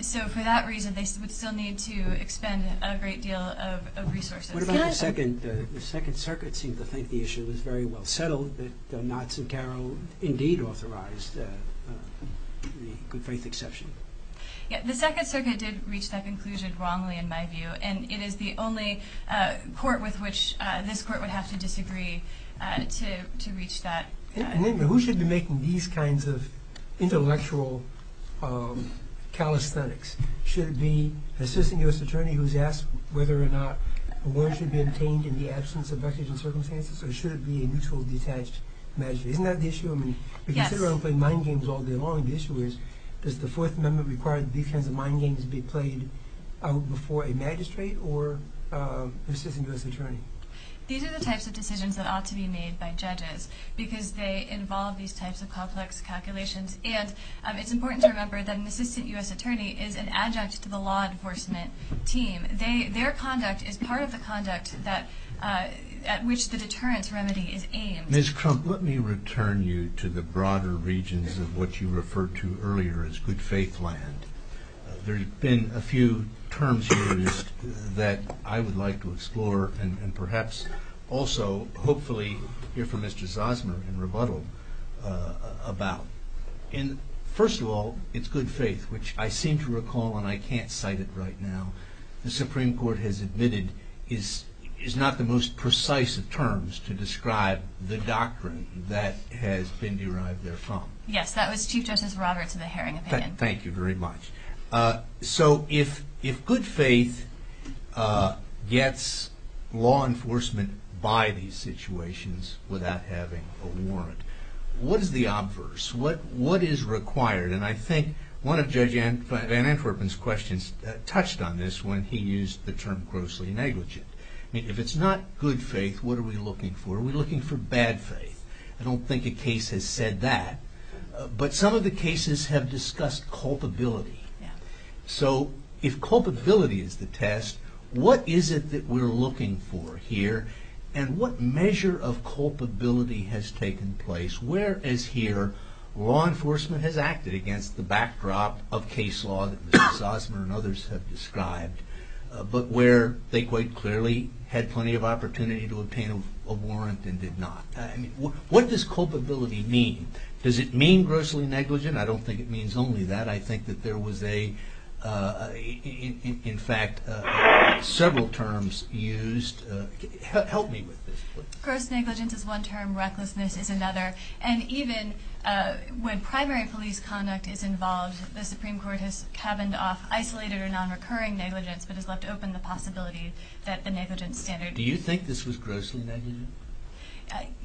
so for that reason, they would still need to expend a great deal of resources. What about the Second Circuit? The Second Circuit seemed to think the issue was very well settled, that Knott's and Caro indeed authorized the good-faith exception. The Second Circuit did reach that conclusion wrongly, in my view, and it is the only court with which this court would have to disagree to reach that conclusion. Who should be making these kinds of intellectual calisthenics? Should it be an assistant U.S. attorney who is asked whether or not a warrant should be obtained in the absence of vexation circumstances, or should it be a neutral, detached magistrate? Isn't that the issue? If you sit around playing mind games all day long, the issue is, does the Fourth Amendment require that these kinds of mind games be played out before a magistrate or an assistant U.S. attorney? Because they involve these types of complex calculations. And it's important to remember that an assistant U.S. attorney is an adjunct to the law enforcement team. Their conduct is part of the conduct at which the deterrence remedy is aimed. Ms. Crump, let me return you to the broader regions of what you referred to earlier as good-faith land. There have been a few terms used that I would like to explore and perhaps also hopefully hear from Mr. Zosmer in rebuttal about. First of all, it's good faith, which I seem to recall, and I can't cite it right now. The Supreme Court has admitted is not the most precise of terms to describe the doctrine that has been derived therefrom. Yes, that was Chief Justice Roberts of the Haring Opinion. Thank you very much. So if good faith gets law enforcement by these situations without having a warrant, what is the obverse? What is required? And I think one of Judge Van Antwerpen's questions touched on this when he used the term grossly negligent. If it's not good faith, what are we looking for? Are we looking for bad faith? I don't think a case has said that. But some of the cases have discussed culpability. So if culpability is the test, what is it that we're looking for here? And what measure of culpability has taken place where, as here, law enforcement has acted against the backdrop of case law that Mr. Zosmer and others have described, but where they quite clearly had plenty of opportunity to obtain a warrant and did not? What does culpability mean? Does it mean grossly negligent? I don't think it means only that. I think that there was a, in fact, several terms used. Help me with this, please. Gross negligence is one term. Recklessness is another. And even when primary police conduct is involved, the Supreme Court has cabined off isolated or nonrecurring negligence Do you think this was grossly negligent?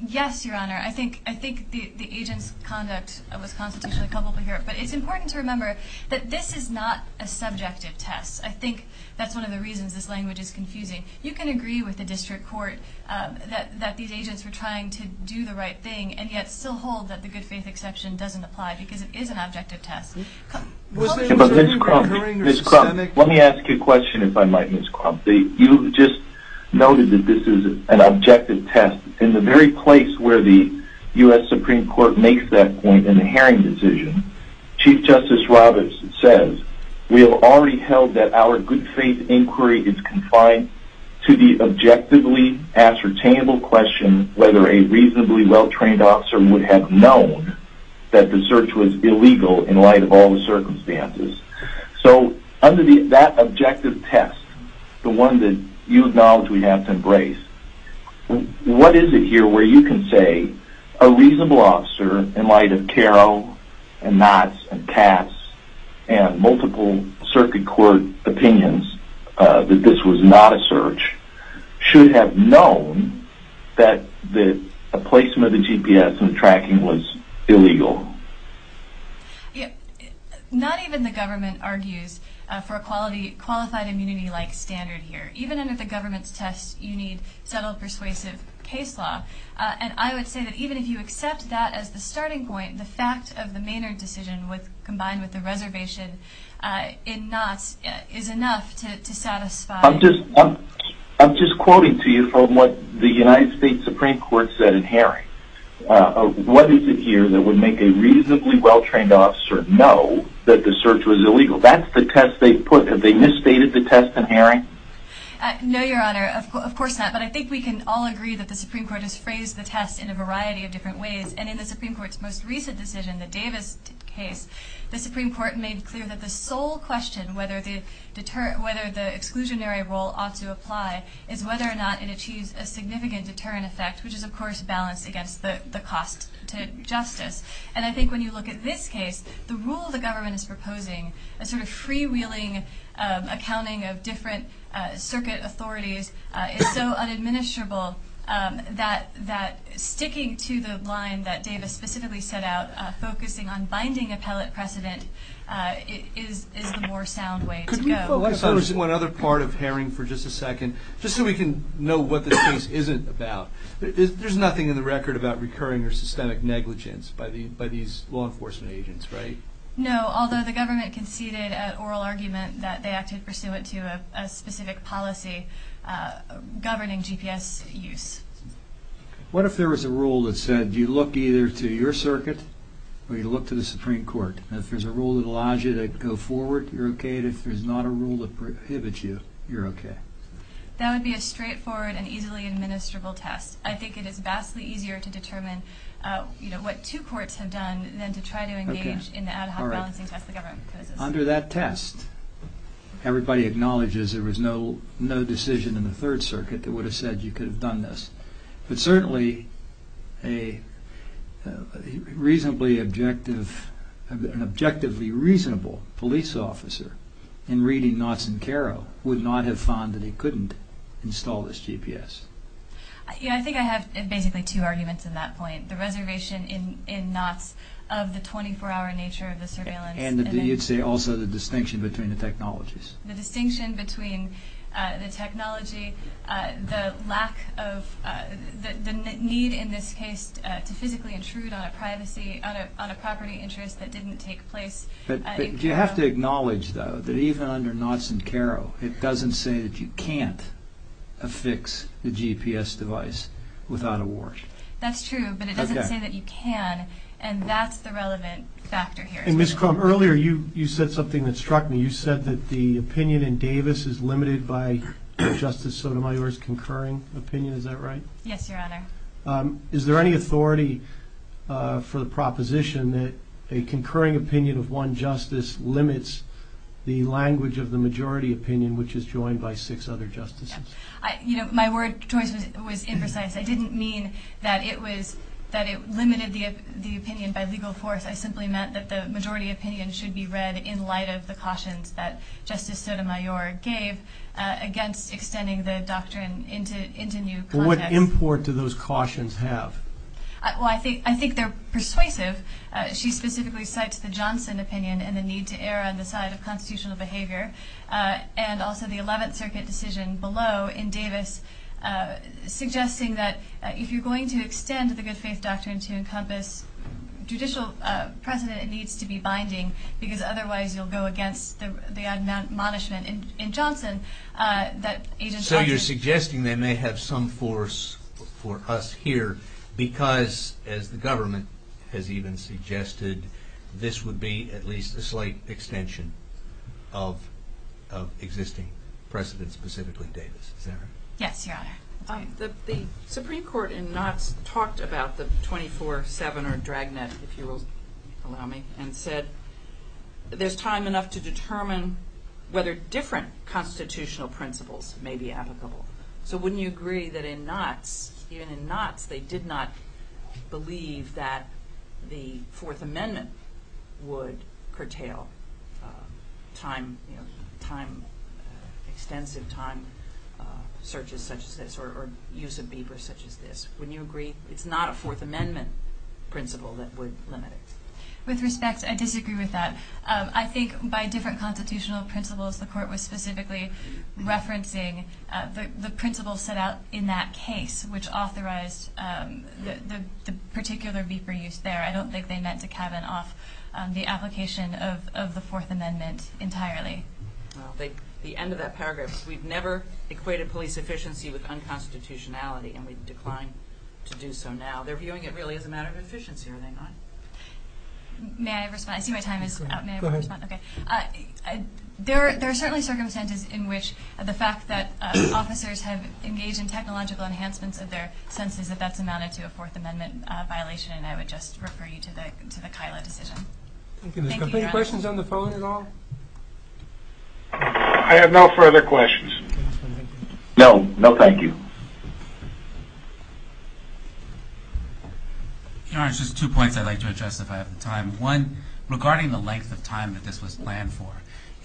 Yes, Your Honor. I think the agent's conduct was constitutionally culpable here. But it's important to remember that this is not a subjective test. I think that's one of the reasons this language is confusing. You can agree with the district court that these agents were trying to do the right thing and yet still hold that the good faith exception doesn't apply because it is an objective test. But Ms. Crump, let me ask you a question, if I might, Ms. Crump. You just noted that this is an objective test. In the very place where the U.S. Supreme Court makes that point in the Haring decision, Chief Justice Roberts says, We have already held that our good faith inquiry is confined to the objectively ascertainable question whether a reasonably well-trained officer would have known that the search was illegal in light of all the circumstances. So under that objective test, the one that you acknowledge we have to embrace, what is it here where you can say a reasonable officer, in light of Karo and Knotts and Katz and multiple circuit court opinions, that this was not a search, should have known that a placement of the GPS in the tracking was illegal? Not even the government argues for a qualified immunity-like standard here. Even under the government's test, you need subtle persuasive case law. And I would say that even if you accept that as the starting point, the fact of the Maynard decision combined with the reservation in Knotts is enough to satisfy... I'm just quoting to you from what the United States Supreme Court said in Haring. What is it here that would make a reasonably well-trained officer know that the search was illegal? That's the test they put. Have they misstated the test in Haring? No, Your Honor. Of course not. But I think we can all agree that the Supreme Court has phrased the test in a variety of different ways. And in the Supreme Court's most recent decision, the Davis case, the Supreme Court made clear that the sole question whether the exclusionary rule ought to apply is whether or not it achieves a significant deterrent effect, which is, of course, balanced against the cost to justice. And I think when you look at this case, the rule the government is proposing, a sort of freewheeling accounting of different circuit authorities, is so unadministrable that sticking to the line that Davis specifically set out, focusing on binding appellate precedent, is the more sound way to go. Could we focus on one other part of Haring for just a second, just so we can know what this case isn't about? There's nothing in the record about recurring or systemic negligence by these law enforcement agents, right? No, although the government conceded at oral argument that they acted pursuant to a specific policy governing GPS use. What if there was a rule that said you look either to your circuit or you look to the Supreme Court? If there's a rule that allows you to go forward, you're okay. If there's not a rule that prohibits you, you're okay. That would be a straightforward and easily administrable test. I think it is vastly easier to determine what two courts have done than to try to engage in the ad hoc balancing test the government proposes. Under that test, everybody acknowledges there was no decision in the Third Circuit that would have said you could have done this. But certainly, an objectively reasonable police officer in reading Knotts and Caro would not have found that he couldn't install this GPS. Yeah, I think I have basically two arguments in that point. The reservation in Knotts of the 24-hour nature of the surveillance. And you'd say also the distinction between the technologies. The distinction between the technology, the lack of, the need in this case to physically intrude on a privacy, on a property interest that didn't take place. You have to acknowledge, though, that even under Knotts and Caro, it doesn't say that you can't affix the GPS device without a warrant. That's true, but it doesn't say that you can. And that's the relevant factor here. Ms. Crum, earlier you said something that struck me. You said that the opinion in Davis is limited by Justice Sotomayor's concurring opinion. Is that right? Yes, Your Honor. Is there any authority for the proposition that a concurring opinion of one justice limits the language of the majority opinion, which is joined by six other justices? My word choice was imprecise. I didn't mean that it limited the opinion by legal force. I simply meant that the majority opinion should be read in light of the cautions that Justice Sotomayor gave against extending the doctrine into new context. And what import do those cautions have? Well, I think they're persuasive. She specifically cites the Johnson opinion and the need to err on the side of constitutional behavior and also the Eleventh Circuit decision below in Davis, suggesting that if you're going to extend the good-faith doctrine to encompass judicial precedent, it needs to be binding because otherwise you'll go against the admonishment in Johnson. So you're suggesting they may have some force for us here because, as the government has even suggested, this would be at least a slight extension of existing precedent, specifically Davis. Is that right? Yes, Your Honor. The Supreme Court in Knotts talked about the 24-7 or drag net, if you will allow me, and said there's time enough to determine whether different constitutional principles may be applicable. So wouldn't you agree that in Knotts, even in Knotts, they did not believe that the Fourth Amendment would curtail extensive time searches such as this or use of Bieber such as this? Wouldn't you agree it's not a Fourth Amendment principle that would limit it? With respect, I disagree with that. I think by different constitutional principles, the Court was specifically referencing the principles set out in that case, which authorized the particular Bieber use there. I don't think they meant to cabin off the application of the Fourth Amendment entirely. Well, the end of that paragraph, we've never equated police efficiency with unconstitutionality and we decline to do so now. They're viewing it really as a matter of efficiency, are they not? May I respond? I see my time is up. May I respond? Go ahead. Okay. There are certainly circumstances in which the fact that officers have engaged in technological enhancements of their senses, that that's amounted to a Fourth Amendment violation, and I would just refer you to the Kyla decision. Thank you, Your Honor. Are there any questions on the phone at all? I have no further questions. No. No, thank you. Your Honor, just two points I'd like to address if I have the time. One, regarding the length of time that this was planned for,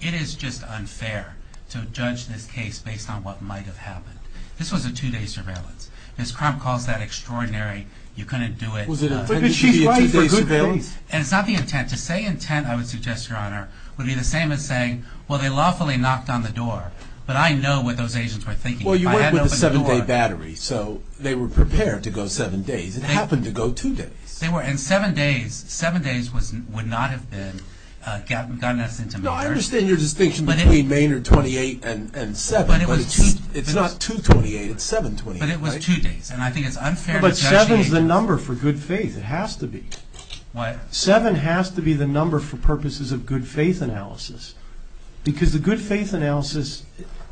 it is just unfair to judge this case based on what might have happened. This was a two-day surveillance. Ms. Crump calls that extraordinary. You couldn't do it. Was it a two-day surveillance? And it's not the intent. To say intent, I would suggest, Your Honor, would be the same as saying, well, they lawfully knocked on the door, but I know what those agents were thinking. Well, you weren't with a seven-day battery, so they were prepared to go seven days. It happened to go two days. They were. And seven days would not have gotten us into Maynard. No, I understand your distinction between Maynard 28 and seven, but it's not 228. It's 728. But it was two days, and I think it's unfair to judge it. But seven is the number for good faith. It has to be. What? Seven has to be the number for purposes of good faith analysis, because the good faith analysis,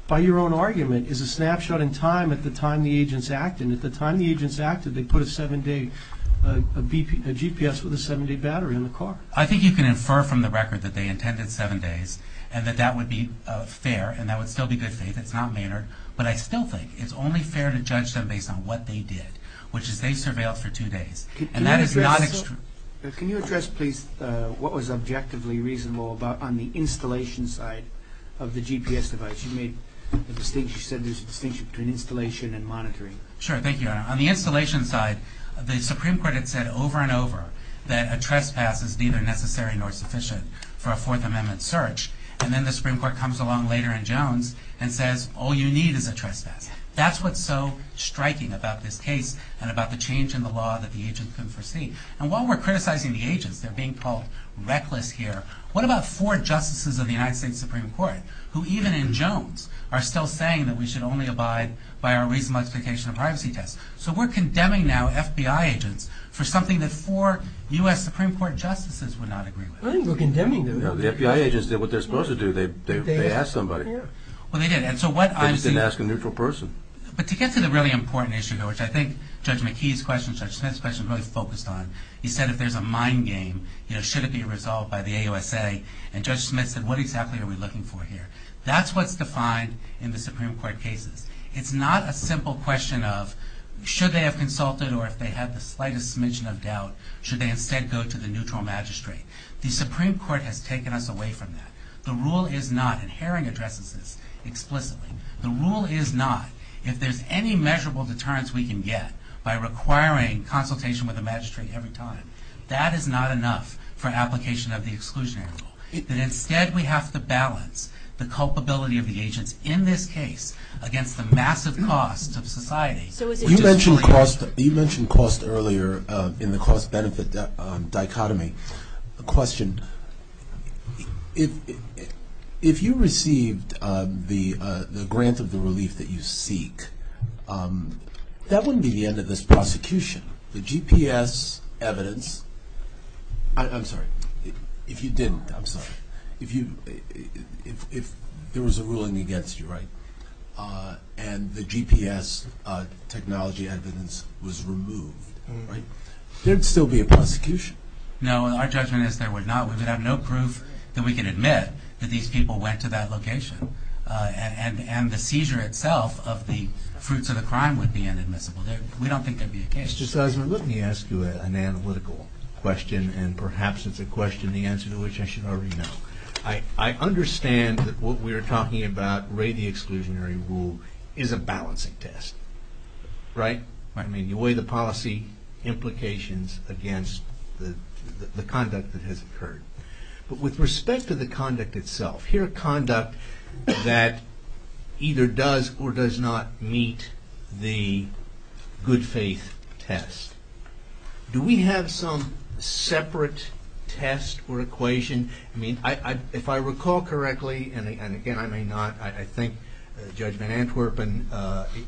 by your own argument, is a snapshot in time at the time the agents acted. And at the time the agents acted, they put a seven-day GPS with a seven-day battery in the car. I think you can infer from the record that they intended seven days and that that would be fair and that would still be good faith. It's not Maynard. But I still think it's only fair to judge them based on what they did, which is they surveilled for two days, and that is not extreme. Can you address, please, what was objectively reasonable on the installation side of the GPS device? You said there's a distinction between installation and monitoring. Sure. Thank you, Your Honor. On the installation side, the Supreme Court had said over and over that a trespass is neither necessary nor sufficient for a Fourth Amendment search. And then the Supreme Court comes along later in Jones and says, all you need is a trespass. That's what's so striking about this case and about the change in the law that the agents can foresee. And while we're criticizing the agents, they're being called reckless here, what about four justices of the United States Supreme Court who even in Jones are still saying that we should only abide by our reasonable explication of privacy test? So we're condemning now FBI agents for something that four U.S. Supreme Court justices would not agree with. I think we're condemning them. No, the FBI agents did what they're supposed to do. They asked somebody. Well, they did. They just didn't ask a neutral person. But to get to the really important issue here, which I think Judge McKee's question, Judge Smith's question is really focused on, he said if there's a mind game, should it be resolved by the AUSA? And Judge Smith said, what exactly are we looking for here? That's what's defined in the Supreme Court cases. It's not a simple question of should they have consulted or if they had the slightest smidgen of doubt, should they instead go to the neutral magistrate? The Supreme Court has taken us away from that. The rule is not, and Herring addresses this explicitly, the rule is not if there's any measurable deterrence we can get by requiring consultation with the magistrate every time, that is not enough for application of the exclusionary rule. Instead, we have to balance the culpability of the agents in this case against the massive cost of society. You mentioned cost earlier in the cost-benefit dichotomy. A question, if you received the grant of the relief that you seek, that wouldn't be the end of this prosecution. The GPS evidence, I'm sorry, if you didn't, I'm sorry, if there was a ruling against you, right, and the GPS technology evidence was removed, right, there'd still be a prosecution. No, our judgment is there would not. We would have no proof that we can admit that these people went to that location. And the seizure itself of the fruits of the crime would be inadmissible. We don't think there'd be a case. Mr. Sussman, let me ask you an analytical question, and perhaps it's a question the answer to which I should already know. I understand that what we're talking about, Ray, the exclusionary rule, is a balancing test, right? I mean, you weigh the policy implications against the conduct that has occurred. But with respect to the conduct itself, here are conduct that either does or does not meet the good faith test. Do we have some separate test or equation? I mean, if I recall correctly, and again, I may not, but I think Judge Van Antwerpen,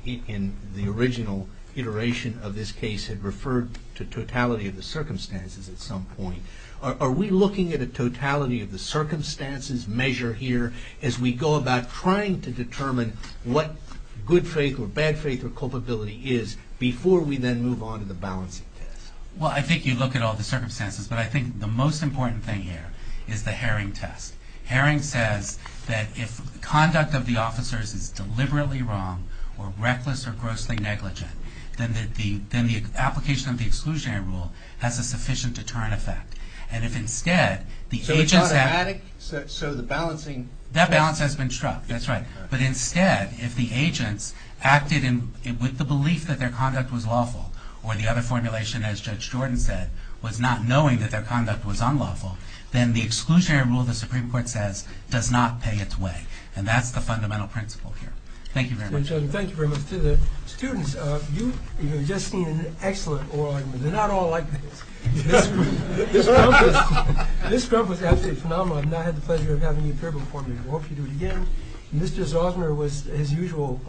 in the original iteration of this case, had referred to totality of the circumstances at some point. Are we looking at a totality of the circumstances measure here as we go about trying to determine what good faith or bad faith or culpability is before we then move on to the balancing test? Well, I think you look at all the circumstances, but I think the most important thing here is the Herring test. Herring says that if conduct of the officers is deliberately wrong or reckless or grossly negligent, then the application of the exclusionary rule has a sufficient deterrent effect. So it's automatic? That balance has been struck, that's right. But instead, if the agents acted with the belief that their conduct was lawful, or the other formulation, as Judge Jordan said, was not knowing that their conduct was unlawful, then the exclusionary rule, the Supreme Court says, does not pay its way. And that's the fundamental principle here. Thank you very much. Thank you very much. To the students, you have just seen an excellent oral argument. They're not all like this. Ms. Crump was absolutely phenomenal. I've not had the pleasure of having you appear before me. I hope you do it again. Mr. Zosner was his usual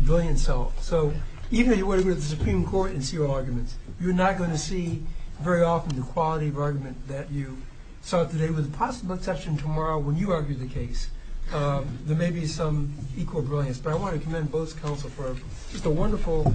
brilliant self. So even if you were to go to the Supreme Court and see oral arguments, you're not going to see very often the quality of argument that you saw today. With the possible exception tomorrow when you argue the case, there may be some equal brilliance. But I want to commend both counsel for just a wonderful.